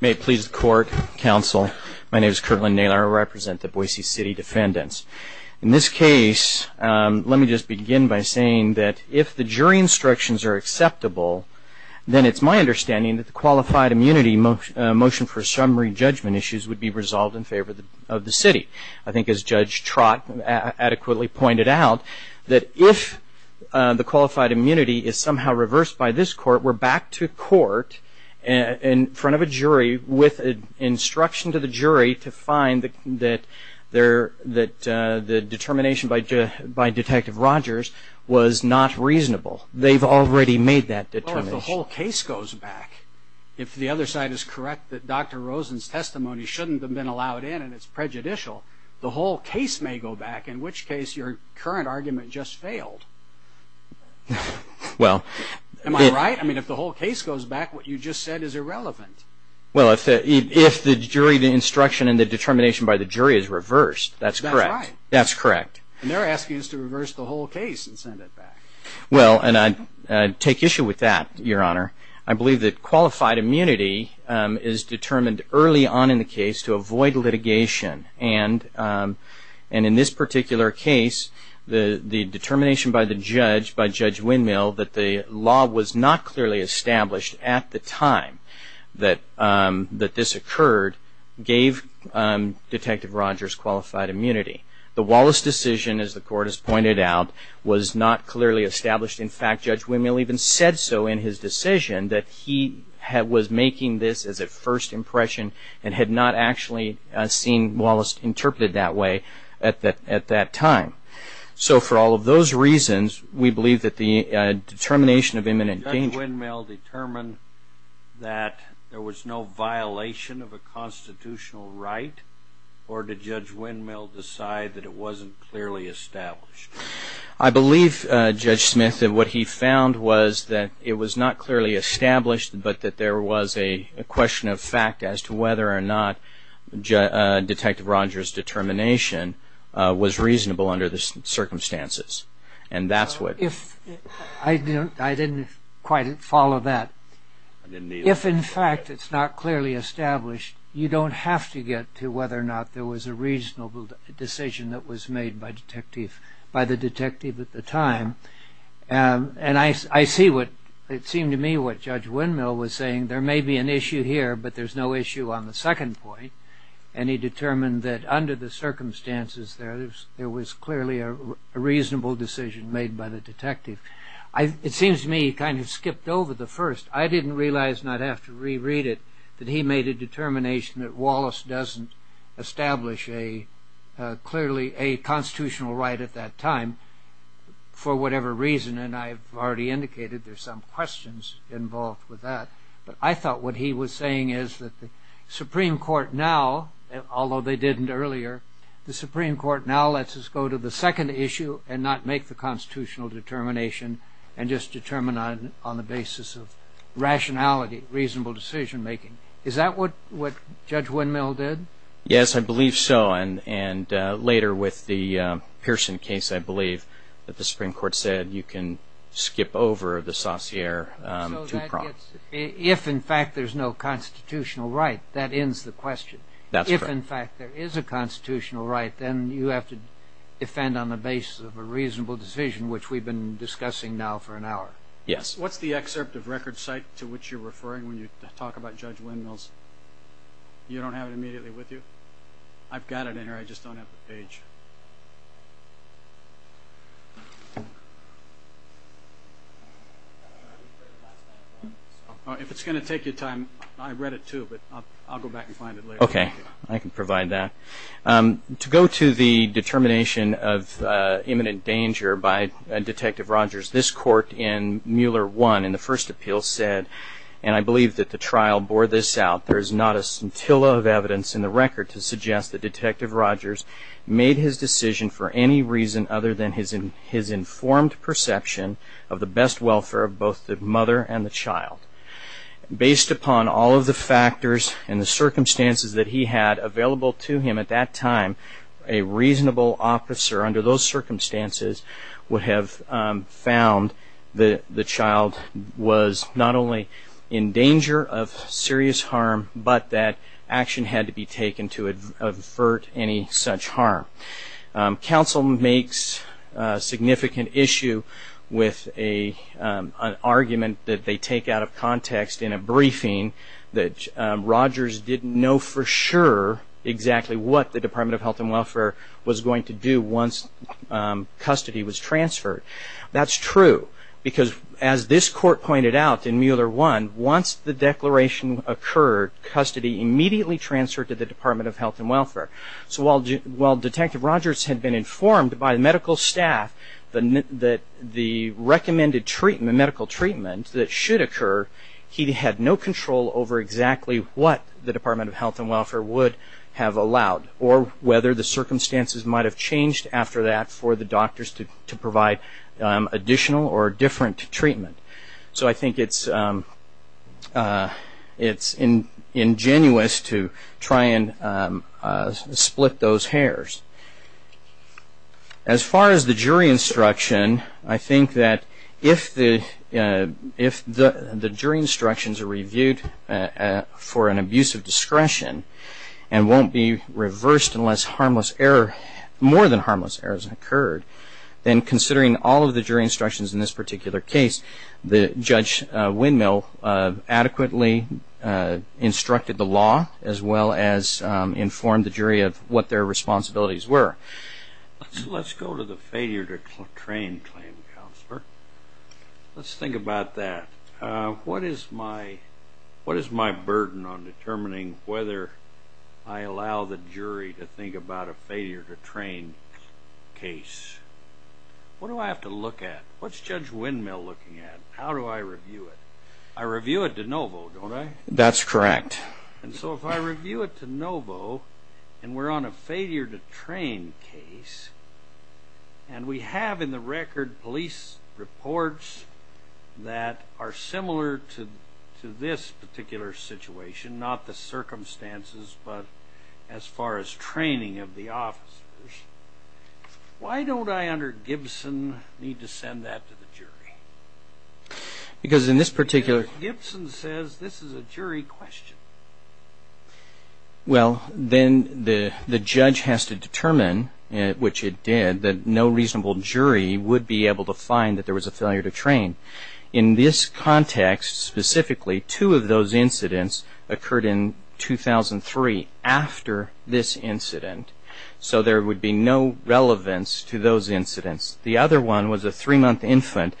May it please the Court, Counsel, my name is Kirtland Naylor. I represent the Boise City defendants. In this case, let me just begin by saying that if the jury instructions are acceptable, then it's my understanding that the qualified immunity motion for summary judgment issues would be resolved in favor of the city. I think as Judge Trott adequately pointed out, that if the qualified immunity is somehow reversed by this court, we're back to court in front of a jury with instruction to the jury to find that the determination by Detective Rogers was not reasonable. They've already made that determination. Well, if the whole case goes back, if the other side is correct that Dr. Rosen's testimony shouldn't have been allowed in and it's prejudicial, the whole case may go back, in which case your current argument just failed. Well... Am I right? I mean, if the whole case goes back, what you just said is irrelevant. Well, if the jury instruction and the determination by the jury is reversed, that's correct. That's right. That's correct. And they're asking us to reverse the whole case and send it back. Well, and I take issue with that, Your Honor. I believe that qualified immunity is determined early on in the case to avoid litigation. And in this particular case, the determination by the judge, by Judge Windmill, that the law was not clearly established at the time that this occurred, gave Detective Rogers qualified immunity. The Wallace decision, as the court has pointed out, was not clearly established. In fact, Judge Windmill even said so in his decision, that he was making this as a first impression and had not actually seen Wallace interpreted that way at that time. So for all of those reasons, we believe that the determination of imminent danger... Did Judge Windmill determine that there was no violation of a constitutional right, or did Judge Windmill decide that it wasn't clearly established? I believe, Judge Smith, that what he found was that it was not clearly established, but that there was a question of fact as to whether or not Detective Rogers' determination was reasonable under the circumstances. And that's what... I didn't quite follow that. If, in fact, it's not clearly established, you don't have to get to whether or not there was a reasonable decision that was made by the detective at the time. And I see what... It seemed to me what Judge Windmill was saying. There may be an issue here, but there's no issue on the second point. And he determined that under the circumstances there, there was clearly a reasonable decision made by the detective. It seems to me he kind of skipped over the first. I didn't realize, and I'd have to reread it, that he made a determination that Wallace doesn't establish clearly a constitutional right at that time for whatever reason. And I've already indicated there's some questions involved with that. But I thought what he was saying is that the Supreme Court now, although they didn't earlier, the Supreme Court now lets us go to the second issue and not make the constitutional determination and just determine on the basis of rationality, reasonable decision-making. Is that what Judge Windmill did? Yes, I believe so. And later with the Pearson case, I believe that the Supreme Court said you can skip over the saussure two-prong. If, in fact, there's no constitutional right, that ends the question. That's correct. If, in fact, there is a constitutional right, then you have to defend on the basis of a reasonable decision, which we've been discussing now for an hour. Yes. What's the excerpt of record site to which you're referring when you talk about Judge Windmill's You don't have it immediately with you? I've got it in here. I just don't have the page. If it's going to take you time, I read it too, but I'll go back and find it later. Okay, I can provide that. To go to the determination of imminent danger by Detective Rogers, this court in Mueller 1 in the first appeal said, and I believe that the trial bore this out, there is not a scintilla of evidence in the record to suggest that Detective Rogers made his decision for any reason other than his informed perception of the best welfare of both the mother and the child. Based upon all of the factors and the circumstances that he had available to him at that time, a reasonable officer under those circumstances would have found that the child was not only in danger of serious harm, but that action had to be taken to avert any such harm. Counsel makes a significant issue with an argument that they take out of context in a briefing that Rogers didn't know for sure exactly what the Department of Health and Welfare was going to do once custody was transferred. That's true, because as this court pointed out in Mueller 1, once the declaration occurred, custody immediately transferred to the Department of Health and Welfare. So while Detective Rogers had been informed by medical staff that the recommended medical treatment that should occur, he had no control over exactly what the Department of Health and Welfare would have allowed, or whether the circumstances might have changed after that for the doctors to provide additional or different treatment. So I think it's ingenuous to try and split those hairs. As far as the jury instruction, I think that if the jury instructions are reviewed for an abuse of discretion and won't be reversed unless more than harmless errors have occurred, then considering all of the jury instructions in this particular case, Judge Windmill adequately instructed the law as well as informed the jury of what their responsibilities were. Let's go to the failure to train claim counselor. Let's think about that. What is my burden on determining whether I allow the jury to think about a What do I have to look at? What's Judge Windmill looking at? How do I review it? I review it de novo, don't I? That's correct. And so if I review it de novo and we're on a failure to train case, and we have in the record police reports that are similar to this particular situation, not the circumstances, but as far as training of the officers, why don't I under Gibson need to send that to the jury? Because in this particular... Gibson says this is a jury question. Well, then the judge has to determine, which it did, that no reasonable jury would be able to find that there was a failure to train. In this context specifically, two of those incidents occurred in 2003 after this incident. So there would be no relevance to those incidents. The other one was a three-month infant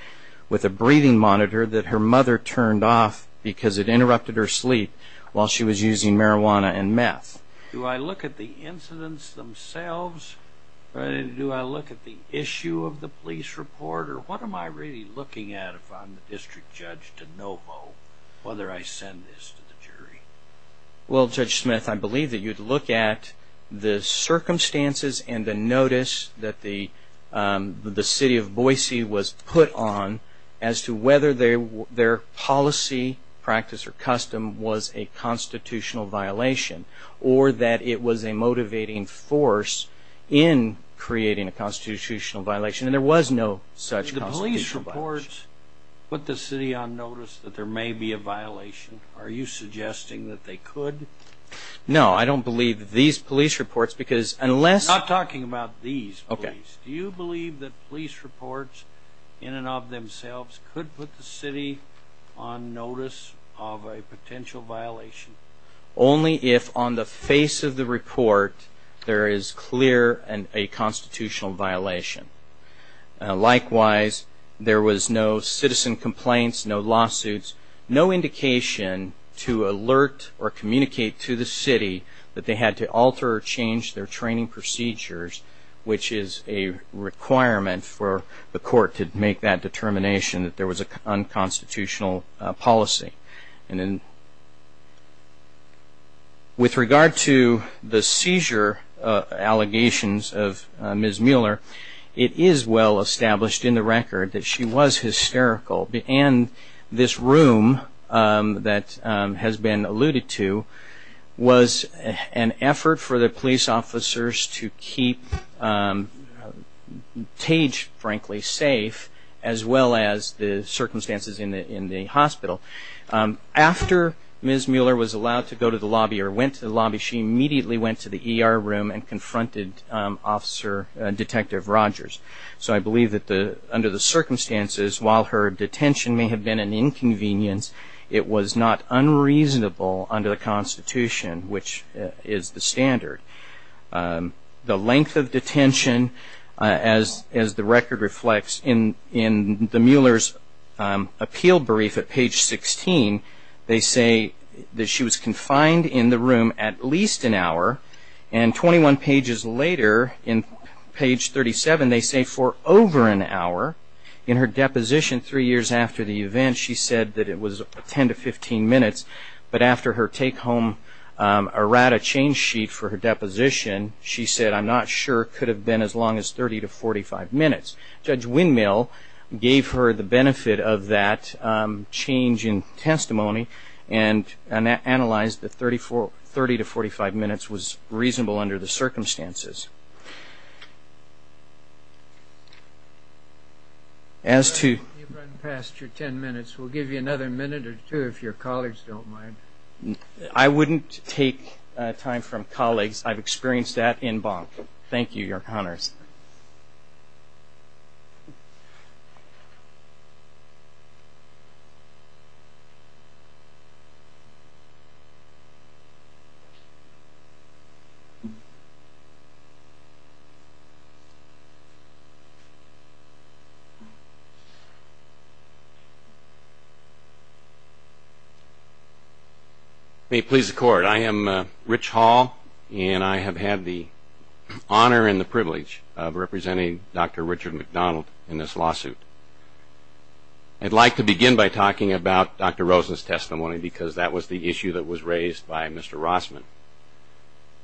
with a breathing monitor that her mother turned off because it interrupted her sleep while she was using marijuana and meth. Do I look at the incidents themselves? Do I look at the issue of the police report? Or what am I really looking at if I'm district judge de novo, whether I send this to the jury? Well, Judge Smith, I believe that you'd look at the circumstances and the notice that the city of Boise was put on as to whether their policy, practice, or custom was a constitutional violation, or that it was a motivating force in creating a constitutional violation. And there was no such constitutional violation. The police reports put the city on notice that there may be a violation. Are you suggesting that they could? No. I don't believe these police reports because unless... I'm not talking about these police. Do you believe that police reports in and of themselves could put the city on notice of a potential violation? Only if on the face of the report there is clear and a constitutional violation. Likewise, there was no citizen complaints, no lawsuits, no indication to alert or communicate to the city that they had to alter or change their training procedures, which is a requirement for the court to make that determination that there was an unconstitutional policy. With regard to the seizure allegations of Ms. Mueller, it is well established in the record that she was hysterical. And this room that has been alluded to was an effort for the police officers to keep Page, frankly, safe as well as the circumstances in the hospital. After Ms. Mueller was allowed to go to the lobby or went to the lobby, she immediately went to the ER room and confronted Detective Rogers. So I believe that under the circumstances, while her detention may have been an inconvenience, it was not unreasonable under the Constitution, which is the standard. The length of detention, as the record reflects, in the Mueller's appeal brief at page 16, they say that she was confined in the room at least an hour. And 21 pages later, in page 37, they say for over an hour. In her deposition three years after the event, she said that it was 10 to 15 minutes. But after her take-home errata change sheet for her deposition, she said, I'm not sure it could have been as long as 30 to 45 minutes. Judge Windmill gave her the benefit of that change in testimony and analyzed that 30 to 45 minutes was reasonable under the circumstances. You've run past your 10 minutes. We'll give you another minute or two if your colleagues don't mind. I wouldn't take time from colleagues. I've experienced that in Bonk. Thank you, Your Honors. Thank you. May it please the Court, I am Rich Hall, and I have had the honor and the privilege of representing Dr. Richard McDonald in this lawsuit. I'd like to begin by talking about Dr. Rosen's testimony because that was the issue that was raised by Mr. Rossman.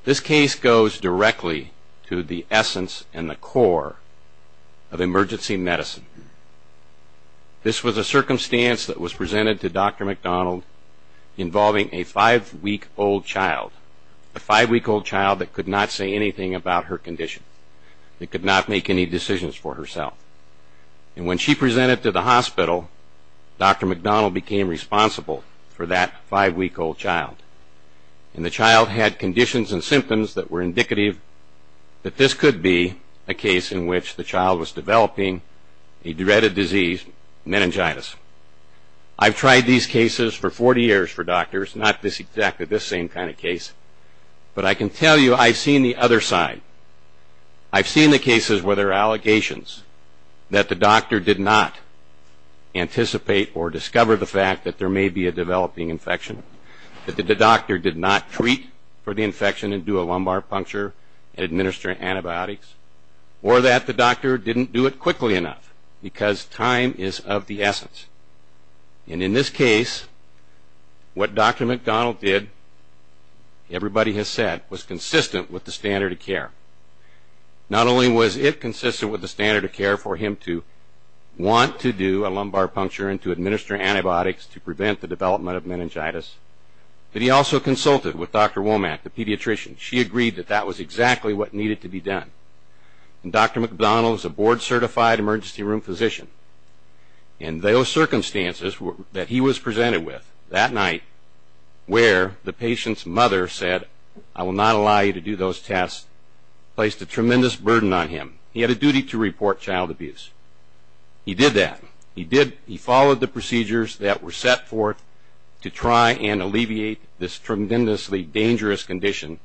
This case goes directly to the essence and the core of emergency medicine. This was a circumstance that was presented to Dr. McDonald involving a five-week-old child, a five-week-old child that could not say anything about her condition, that could not make any decisions for herself. When she presented to the hospital, Dr. McDonald became responsible for that five-week-old child. The child had conditions and symptoms that were indicative that this could be a case in which the child was developing a dreaded disease, meningitis. I've tried these cases for 40 years for doctors, not exactly this same kind of case, but I can tell you I've seen the other side. I've seen the cases where there are allegations that the doctor did not anticipate or discover the fact that there may be a developing infection, that the doctor did not treat for the infection and do a lumbar puncture and administer antibiotics, or that the doctor didn't do it quickly enough because time is of the essence. In this case, what Dr. McDonald did, everybody has said, was consistent with the standard of care. Not only was it consistent with the standard of care for him to want to do a lumbar puncture and to administer antibiotics to prevent the development of meningitis, but he also consulted with Dr. Womack, the pediatrician. She agreed that that was exactly what needed to be done. Dr. McDonald is a board-certified emergency room physician. And those circumstances that he was presented with that night where the patient's mother said, I will not allow you to do those tests, placed a tremendous burden on him. He had a duty to report child abuse. He did that. He followed the procedures that were set forth to try and alleviate this tremendously dangerous condition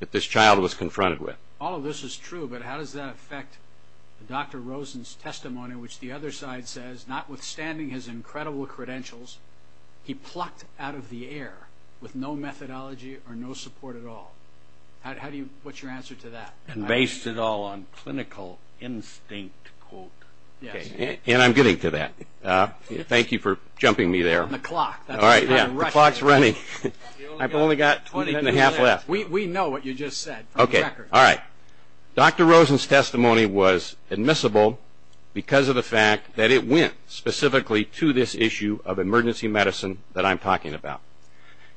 that this child was confronted with. All of this is true, but how does that affect Dr. Rosen's testimony, which the other side says, notwithstanding his incredible credentials, he plucked out of the air with no methodology or no support at all. How do you put your answer to that? And based it all on clinical instinct, quote. And I'm getting to that. Thank you for jumping me there. The clock. The clock's running. I've only got 20 and a half left. We know what you just said. Okay. All right. Dr. Rosen's testimony was admissible because of the fact that it went specifically to this issue of emergency medicine that I'm talking about.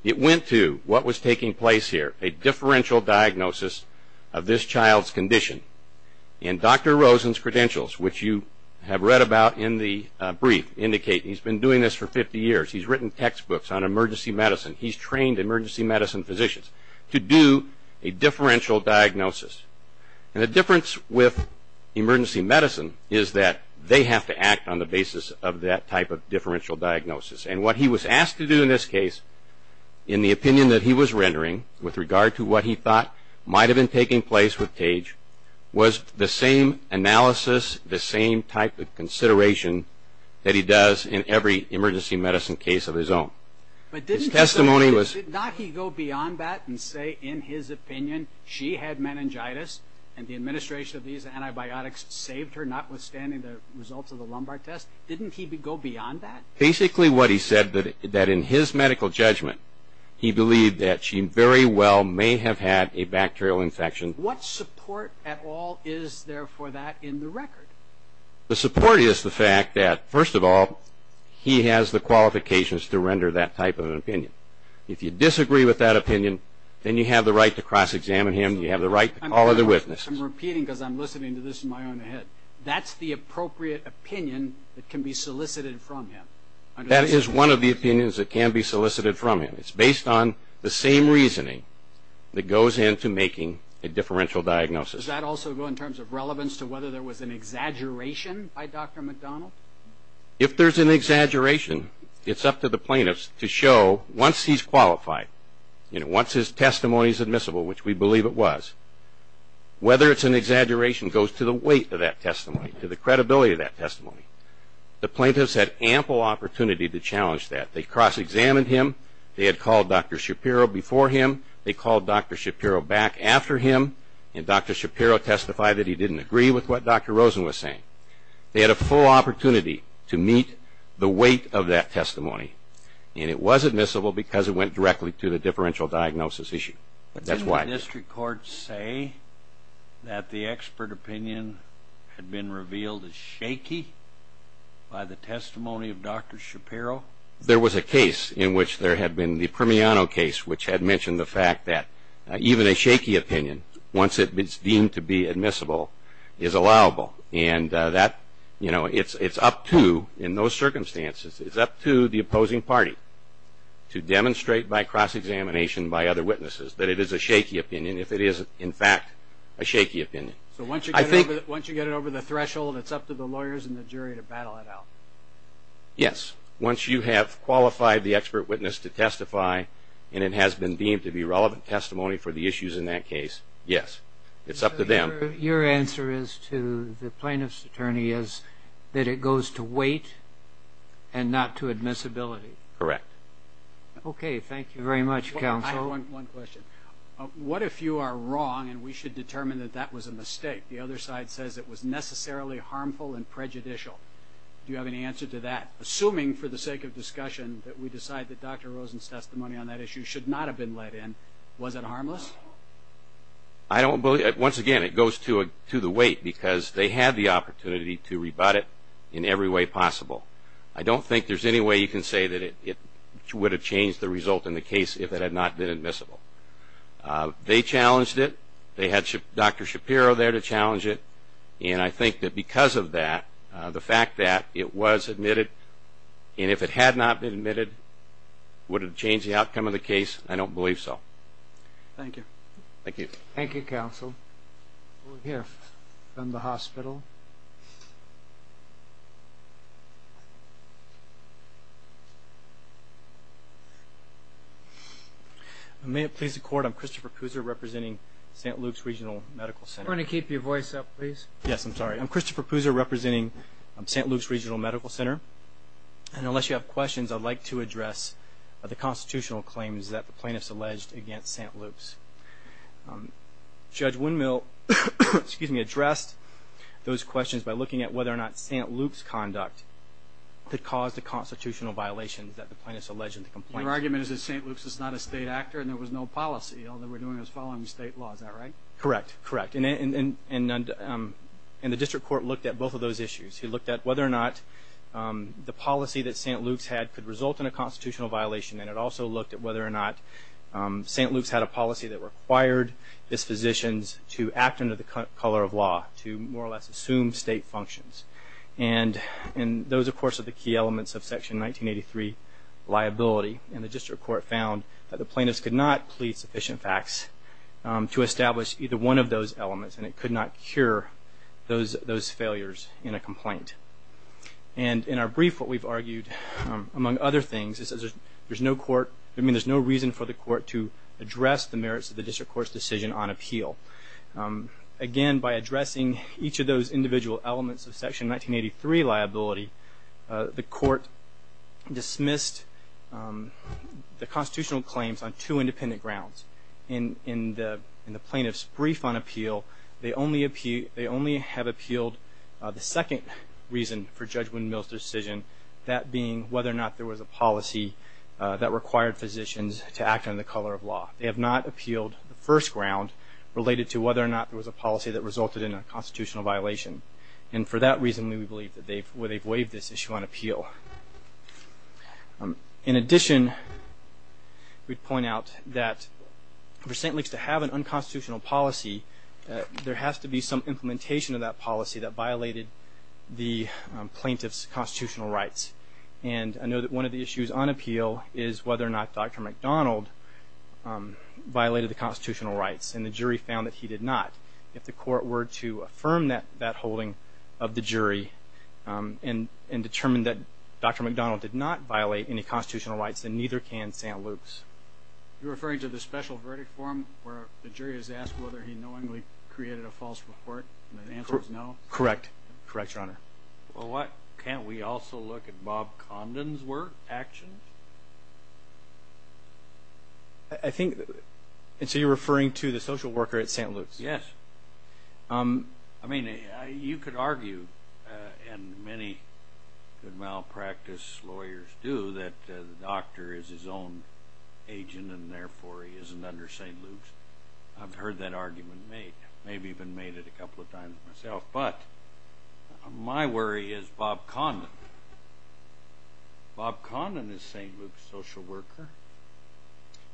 It went to what was taking place here, a differential diagnosis of this child's condition. And Dr. Rosen's credentials, which you have read about in the brief, indicate he's been doing this for 50 years. He's written textbooks on emergency medicine. He's trained emergency medicine physicians to do a differential diagnosis. And the difference with emergency medicine is that they have to act on the basis of that type of differential diagnosis. And what he was asked to do in this case, in the opinion that he was rendering, with regard to what he thought might have been taking place with Paige, was the same analysis, the same type of consideration that he does in every emergency medicine case of his own. But didn't he go beyond that and say, in his opinion, she had meningitis and the administration of these antibiotics saved her, notwithstanding the results of the Lombard test? Didn't he go beyond that? Basically what he said, that in his medical judgment, he believed that she very well may have had a bacterial infection. What support at all is there for that in the record? The support is the fact that, first of all, he has the qualifications to render that type of an opinion. If you disagree with that opinion, then you have the right to cross-examine him. You have the right to call other witnesses. I'm repeating because I'm listening to this in my own head. That's the appropriate opinion that can be solicited from him. That is one of the opinions that can be solicited from him. It's based on the same reasoning that goes into making a differential diagnosis. Does that also go in terms of relevance to whether there was an exaggeration by Dr. McDonald? If there's an exaggeration, it's up to the plaintiffs to show, once he's qualified, once his testimony is admissible, which we believe it was, whether it's an exaggeration goes to the weight of that testimony, to the credibility of that testimony. The plaintiffs had ample opportunity to challenge that. They cross-examined him. They had called Dr. Shapiro before him. They called Dr. Shapiro back after him. And Dr. Shapiro testified that he didn't agree with what Dr. Rosen was saying. They had a full opportunity to meet the weight of that testimony. And it was admissible because it went directly to the differential diagnosis issue. That's why. Didn't the district court say that the expert opinion had been revealed as shaky by the testimony of Dr. Shapiro? There was a case in which there had been the Permiano case, which had mentioned the fact that even a shaky opinion, once it's deemed to be admissible, is allowable. And that, you know, it's up to, in those circumstances, it's up to the opposing party to demonstrate by cross-examination by other witnesses that it is a shaky opinion, if it is, in fact, a shaky opinion. So once you get it over the threshold, it's up to the lawyers and the jury to battle it out. Yes, once you have qualified the expert witness to testify and it has been deemed to be relevant testimony for the issues in that case, yes, it's up to them. So your answer is to the plaintiff's attorney is that it goes to weight and not to admissibility? Correct. Okay, thank you very much, counsel. I have one question. What if you are wrong and we should determine that that was a mistake? The other side says it was necessarily harmful and prejudicial. Do you have an answer to that? Assuming, for the sake of discussion, that we decide that Dr. Rosen's testimony on that issue should not have been let in, was it harmless? I don't believe it. Once again, it goes to the weight because they have the opportunity to rebut it in every way possible. I don't think there's any way you can say that it would have changed the result in the case if it had not been admissible. They challenged it. They had Dr. Shapiro there to challenge it. And I think that because of that, the fact that it was admitted, and if it had not been admitted, would it have changed the outcome of the case? I don't believe so. Thank you. Thank you. Thank you, counsel. We'll hear from the hospital. May it please the Court, I'm Christopher Kuser representing St. Luke's Regional Medical Center. If you're going to keep your voice up, please. Yes, I'm sorry. I'm Christopher Kuser representing St. Luke's Regional Medical Center. And unless you have questions, I'd like to address the constitutional claims that the plaintiffs alleged against St. Luke's. Judge Windmill addressed those questions by looking at whether or not St. Luke's conduct could cause the constitutional violations that the plaintiffs alleged in the complaint. Your argument is that St. Luke's is not a state actor and there was no policy. All they were doing was following state law. Is that right? Correct. Correct. And the district court looked at both of those issues. It looked at whether or not the policy that St. Luke's had could result in a constitutional violation. And it also looked at whether or not St. Luke's had a policy that required its physicians to act under the color of law, to more or less assume state functions. And those, of course, are the key elements of Section 1983 liability. And the district court found that the plaintiffs could not plead sufficient facts to establish either one of those elements and it could not cure those failures in a complaint. And in our brief, what we've argued, among other things, is there's no reason for the court to address the merits of the district court's decision on appeal. Again, by addressing each of those individual elements of Section 1983 liability, the court dismissed the constitutional claims on two independent grounds. In the plaintiff's brief on appeal, they only have appealed the second reason for Judge Windmill's decision, that being whether or not there was a policy that required physicians to act under the color of law. They have not appealed the first ground related to whether or not there was a policy that resulted in a constitutional violation. And for that reason, we believe that they've waived this issue on appeal. In addition, we point out that for St. Luke's to have an unconstitutional policy, there has to be some implementation of that policy that violated the plaintiff's constitutional rights. And I know that one of the issues on appeal is whether or not Dr. McDonald violated the constitutional rights. And the jury found that he did not. If the court were to affirm that holding of the jury and determine that Dr. McDonald did not violate any constitutional rights, then neither can St. Luke's. You're referring to the special verdict form where the jury is asked whether he knowingly created a false report and the answer is no? Correct. Correct, Your Honor. Well, can't we also look at Bob Comden's work, action? I think you're referring to the social worker at St. Luke's. Yes. I mean, you could argue, and many malpractice lawyers do, that the doctor is his own agent and therefore he isn't under St. Luke's. I've heard that argument made. Maybe even made it a couple of times myself. But my worry is Bob Comden. Bob Comden is St. Luke's social worker.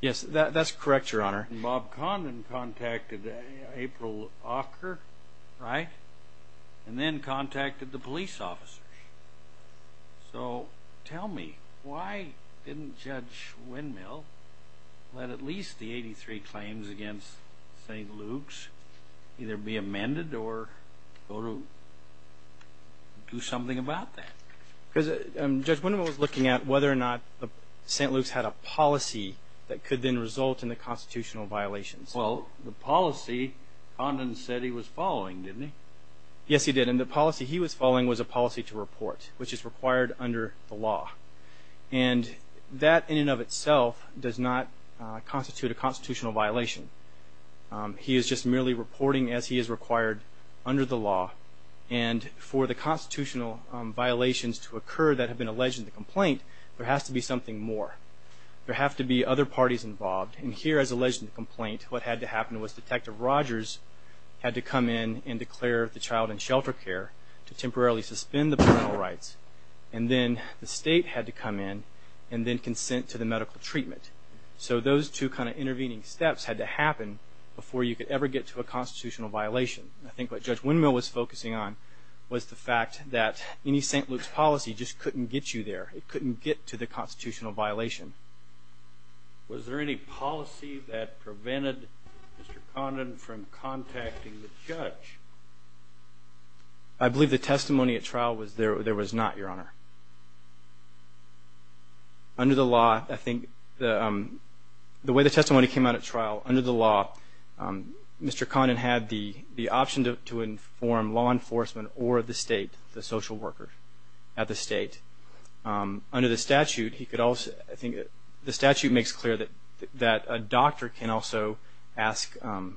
Yes, that's correct, Your Honor. Bob Comden contacted April Ocker, right? And then contacted the police officers. So tell me, why didn't Judge Windmill let at least the 83 claims against St. Luke's either be amended or do something about that? Judge Windmill was looking at whether or not St. Luke's had a policy that could then result in the constitutional violations. Well, the policy Comden said he was following, didn't he? Yes, he did. And the policy he was following was a policy to report, which is required under the law. And that in and of itself does not constitute a constitutional violation. He is just merely reporting as he is required under the law. And for the constitutional violations to occur that have been alleged in the complaint, there has to be something more. There has to be other parties involved. And here, as alleged in the complaint, what had to happen was Detective Rogers had to come in and declare the child in shelter care to temporarily suspend the parental rights. And then the state had to come in and then consent to the medical treatment. So those two kind of intervening steps had to happen before you could ever get to a constitutional violation. I think what Judge Windmill was focusing on was the fact that any St. Luke's policy just couldn't get you there. It couldn't get to the constitutional violation. Was there any policy that prevented Mr. Comden from contacting the judge? I believe the testimony at trial there was not, Your Honor. Under the law, I think the way the testimony came out at trial, under the law, Mr. Comden had the option to inform law enforcement or the state, the social worker at the state. Under the statute, I think the statute makes it clear that a doctor can also, I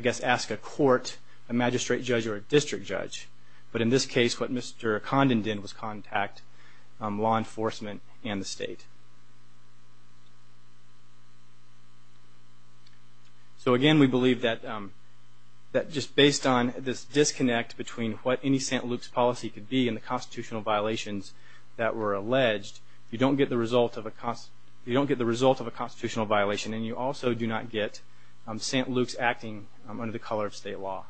guess, ask a court, a magistrate judge or a district judge. But in this case, what Mr. Comden did was contact law enforcement and the state. So, again, we believe that just based on this disconnect between what any St. Luke's policy could be and the constitutional violations that were alleged, you don't get the result of a constitutional violation, and you also do not get St. Luke's acting under the color of state law.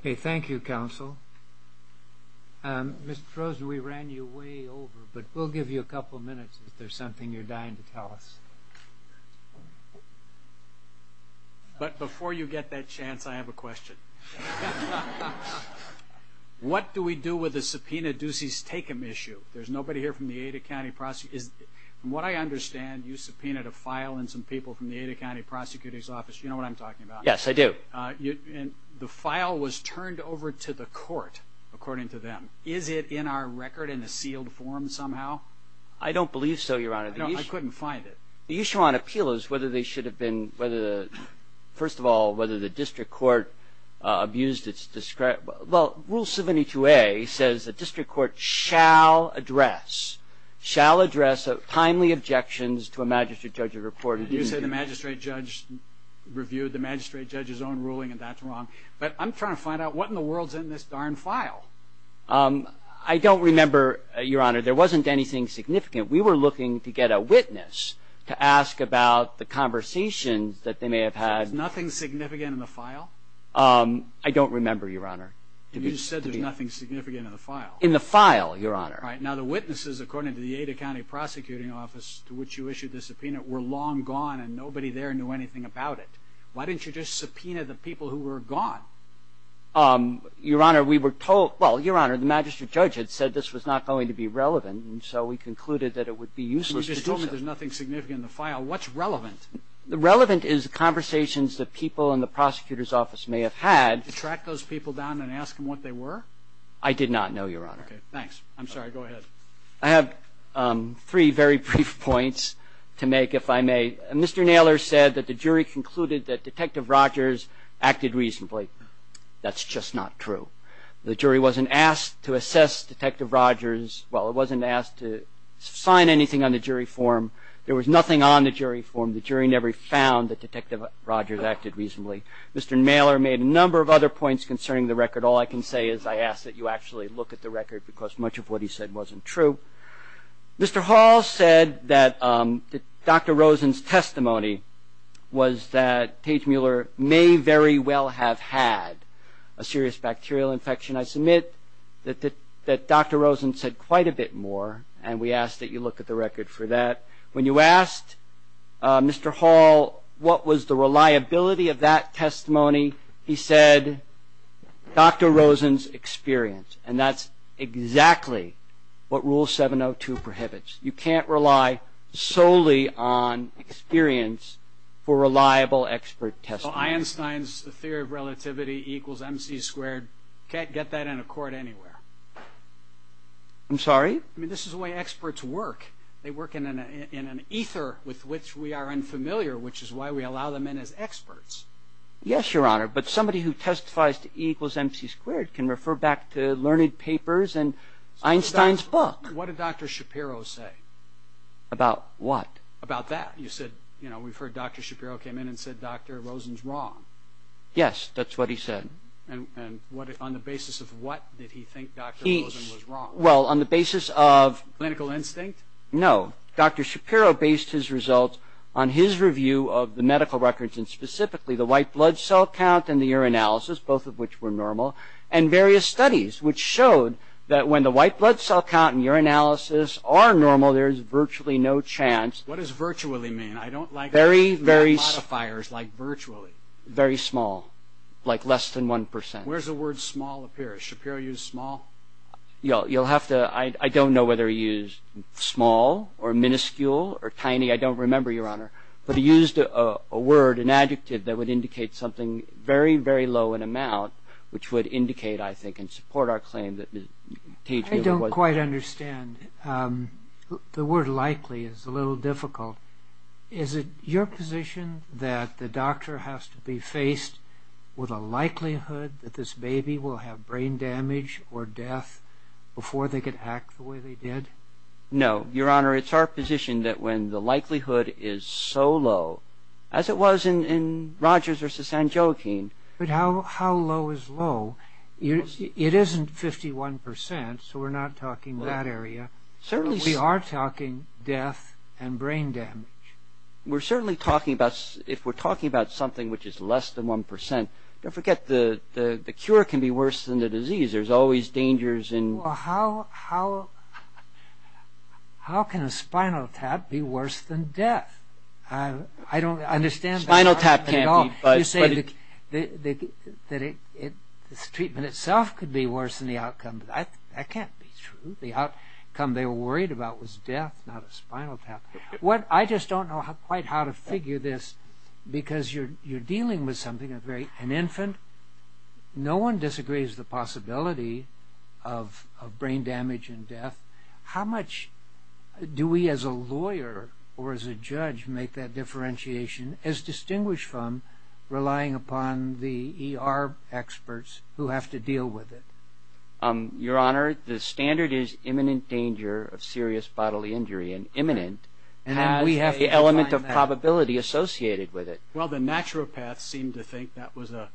Okay. Thank you, counsel. Mr. Frozen, we ran you way over, but we'll give you a couple minutes if there's something you're dying to tell us. But before you get that chance, I have a question. What do we do with the subpoena Ducey's take-him issue? There's nobody here from the Ada County Prosecutor's Office. From what I understand, you subpoenaed a file and some people from the Ada County Prosecutor's Office. You know what I'm talking about. Yes, I do. The file was turned over to the court, according to them. Is it in our record in a sealed form somehow? I don't believe so, Your Honor. I couldn't find it. The issue on appeal is whether they should have been – first of all, whether the district court abused its – well, Rule 72A says the district court shall address – shall address timely objections to a magistrate judge's report. You say the magistrate judge reviewed the magistrate judge's own ruling, and that's wrong. But I'm trying to find out what in the world's in this darn file. I don't remember, Your Honor. There wasn't anything significant. We were looking to get a witness to ask about the conversation that they may have had. Nothing significant in the file? I don't remember, Your Honor. You said there's nothing significant in the file. In the file, Your Honor. All right. Now, the witnesses, according to the Ada County Prosecuting Office, to which you issued the subpoena, were long gone, and nobody there knew anything about it. Why didn't you just subpoena the people who were gone? Your Honor, we were told – well, Your Honor, the magistrate judge had said this was not going to be relevant, and so we concluded that it would be useless to do so. You just told me there's nothing significant in the file. What's relevant? The relevant is conversations that people in the prosecutor's office may have had. Did you track those people down and ask them what they were? I did not know, Your Honor. Okay. Thanks. I'm sorry. Go ahead. I have three very brief points to make, if I may. Mr. Naylor said that the jury concluded that Detective Rogers acted reasonably. That's just not true. The jury wasn't asked to assess Detective Rogers – well, it wasn't asked to sign anything on the jury form. There was nothing on the jury form. The jury never found that Detective Rogers acted reasonably. Mr. Naylor made a number of other points concerning the record. All I can say is I ask that you actually look at the record because much of what he said wasn't true. Mr. Hall said that Dr. Rosen's testimony was that Paige Mueller may very well have had a serious bacterial infection. I submit that Dr. Rosen said quite a bit more, and we ask that you look at the record for that. When you asked Mr. Hall what was the reliability of that testimony, he said Dr. Rosen's experience, and that's exactly what Rule 702 prohibits. You can't rely solely on experience for reliable expert testimony. Well, Einstein's theory of relativity equals MC squared. You can't get that in a court anywhere. I'm sorry? I mean, this is the way experts work. They work in an ether with which we are unfamiliar, which is why we allow them in as experts. Yes, Your Honor, but somebody who testifies to E equals MC squared can refer back to learned papers and Einstein's book. What did Dr. Shapiro say? About what? About that. You said, you know, we've heard Dr. Shapiro came in and said Dr. Rosen's wrong. Yes, that's what he said. And on the basis of what did he think Dr. Rosen was wrong? Well, on the basis of... Clinical instinct? No. Dr. Shapiro based his results on his review of the medical records, and specifically the white blood cell count and the urinalysis, both of which were normal, and various studies which showed that when the white blood cell count and urinalysis are normal, there's virtually no chance... What does virtually mean? I don't like... Very, very... Modifiers like virtually. Very small, like less than 1%. Where does the word small appear? Does Shapiro use small? You'll have to... I don't know whether he used small or minuscule or tiny. I don't remember, Your Honor. But he used a word, an adjective that would indicate something very, very low in amount, which would indicate, I think, and support our claim that... I don't quite understand. The word likely is a little difficult. Is it your position that the doctor has to be faced with a likelihood that this baby will have brain damage or death before they could act the way they did? No. Your Honor, it's our position that when the likelihood is so low, as it was in Rogers versus Sanjokin... But how low is low? It isn't 51%, so we're not talking that area. We are talking death and brain damage. We're certainly talking about... If we're talking about something which is less than 1%, don't forget the cure can be worse than the disease. There's always dangers in... Well, how can a spinal tap be worse than death? I don't understand... A spinal tap can't be, but... You say that the treatment itself could be worse than the outcome. That can't be true. The outcome they were worried about was death, not a spinal tap. I just don't know quite how to figure this because you're dealing with something that's an infant. No one disagrees with the possibility of brain damage and death. How much do we as a lawyer or as a judge make that differentiation as distinguished from relying upon the ER experts who have to deal with it? Your Honor, the standard is imminent danger of serious bodily injury and imminent. The element of probability associated with it. Well, the naturopaths seem to think that was a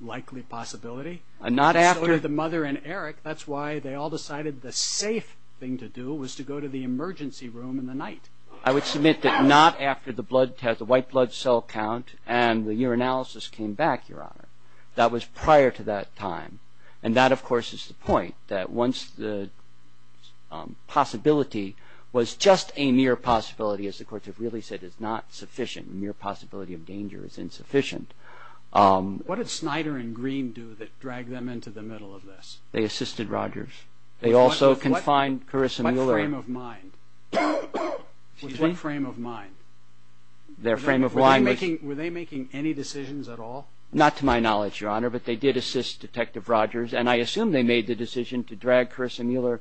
likely possibility. Not after... The mother and Eric, that's why they all decided the safe thing to do was to go to the emergency room in the night. I would submit that not after the white blood cell count and the urinalysis came back, Your Honor. That was prior to that time. And that, of course, is the point, that once the possibility was just a mere possibility, as the courts have really said, it's not sufficient. The mere possibility of danger is insufficient. What did Snyder and Green do that dragged them into the middle of this? They assisted Rogers. They also confined Carissa Mueller. What frame of mind? Their frame of mind... Were they making any decisions at all? Not to my knowledge, Your Honor, but they did assist Detective Rogers, and I assume they made the decision to drag Carissa Mueller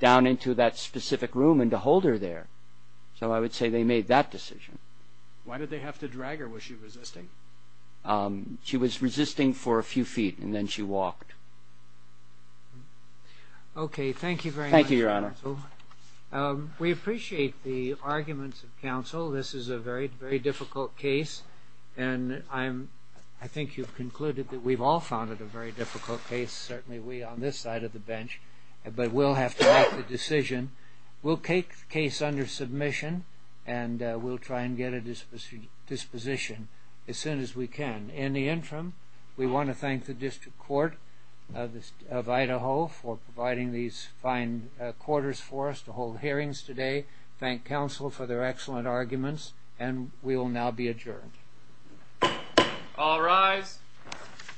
down into that specific room and to hold her there. So I would say they made that decision. Why did they have to drag her? Was she resisting? She was resisting for a few feet, and then she walked. Okay, thank you very much, counsel. Thank you, Your Honor. We appreciate the arguments of counsel. This is a very, very difficult case, and I think you've concluded that we've all found it a very difficult case, certainly we on this side of the bench. But we'll have to make the decision. We'll take the case under submission, and we'll try and get a disposition as soon as we can. In the interim, we want to thank the District Court of Idaho for providing these fine quarters for us to hold hearings today, thank counsel for their excellent arguments, and we will now be adjourned. All rise.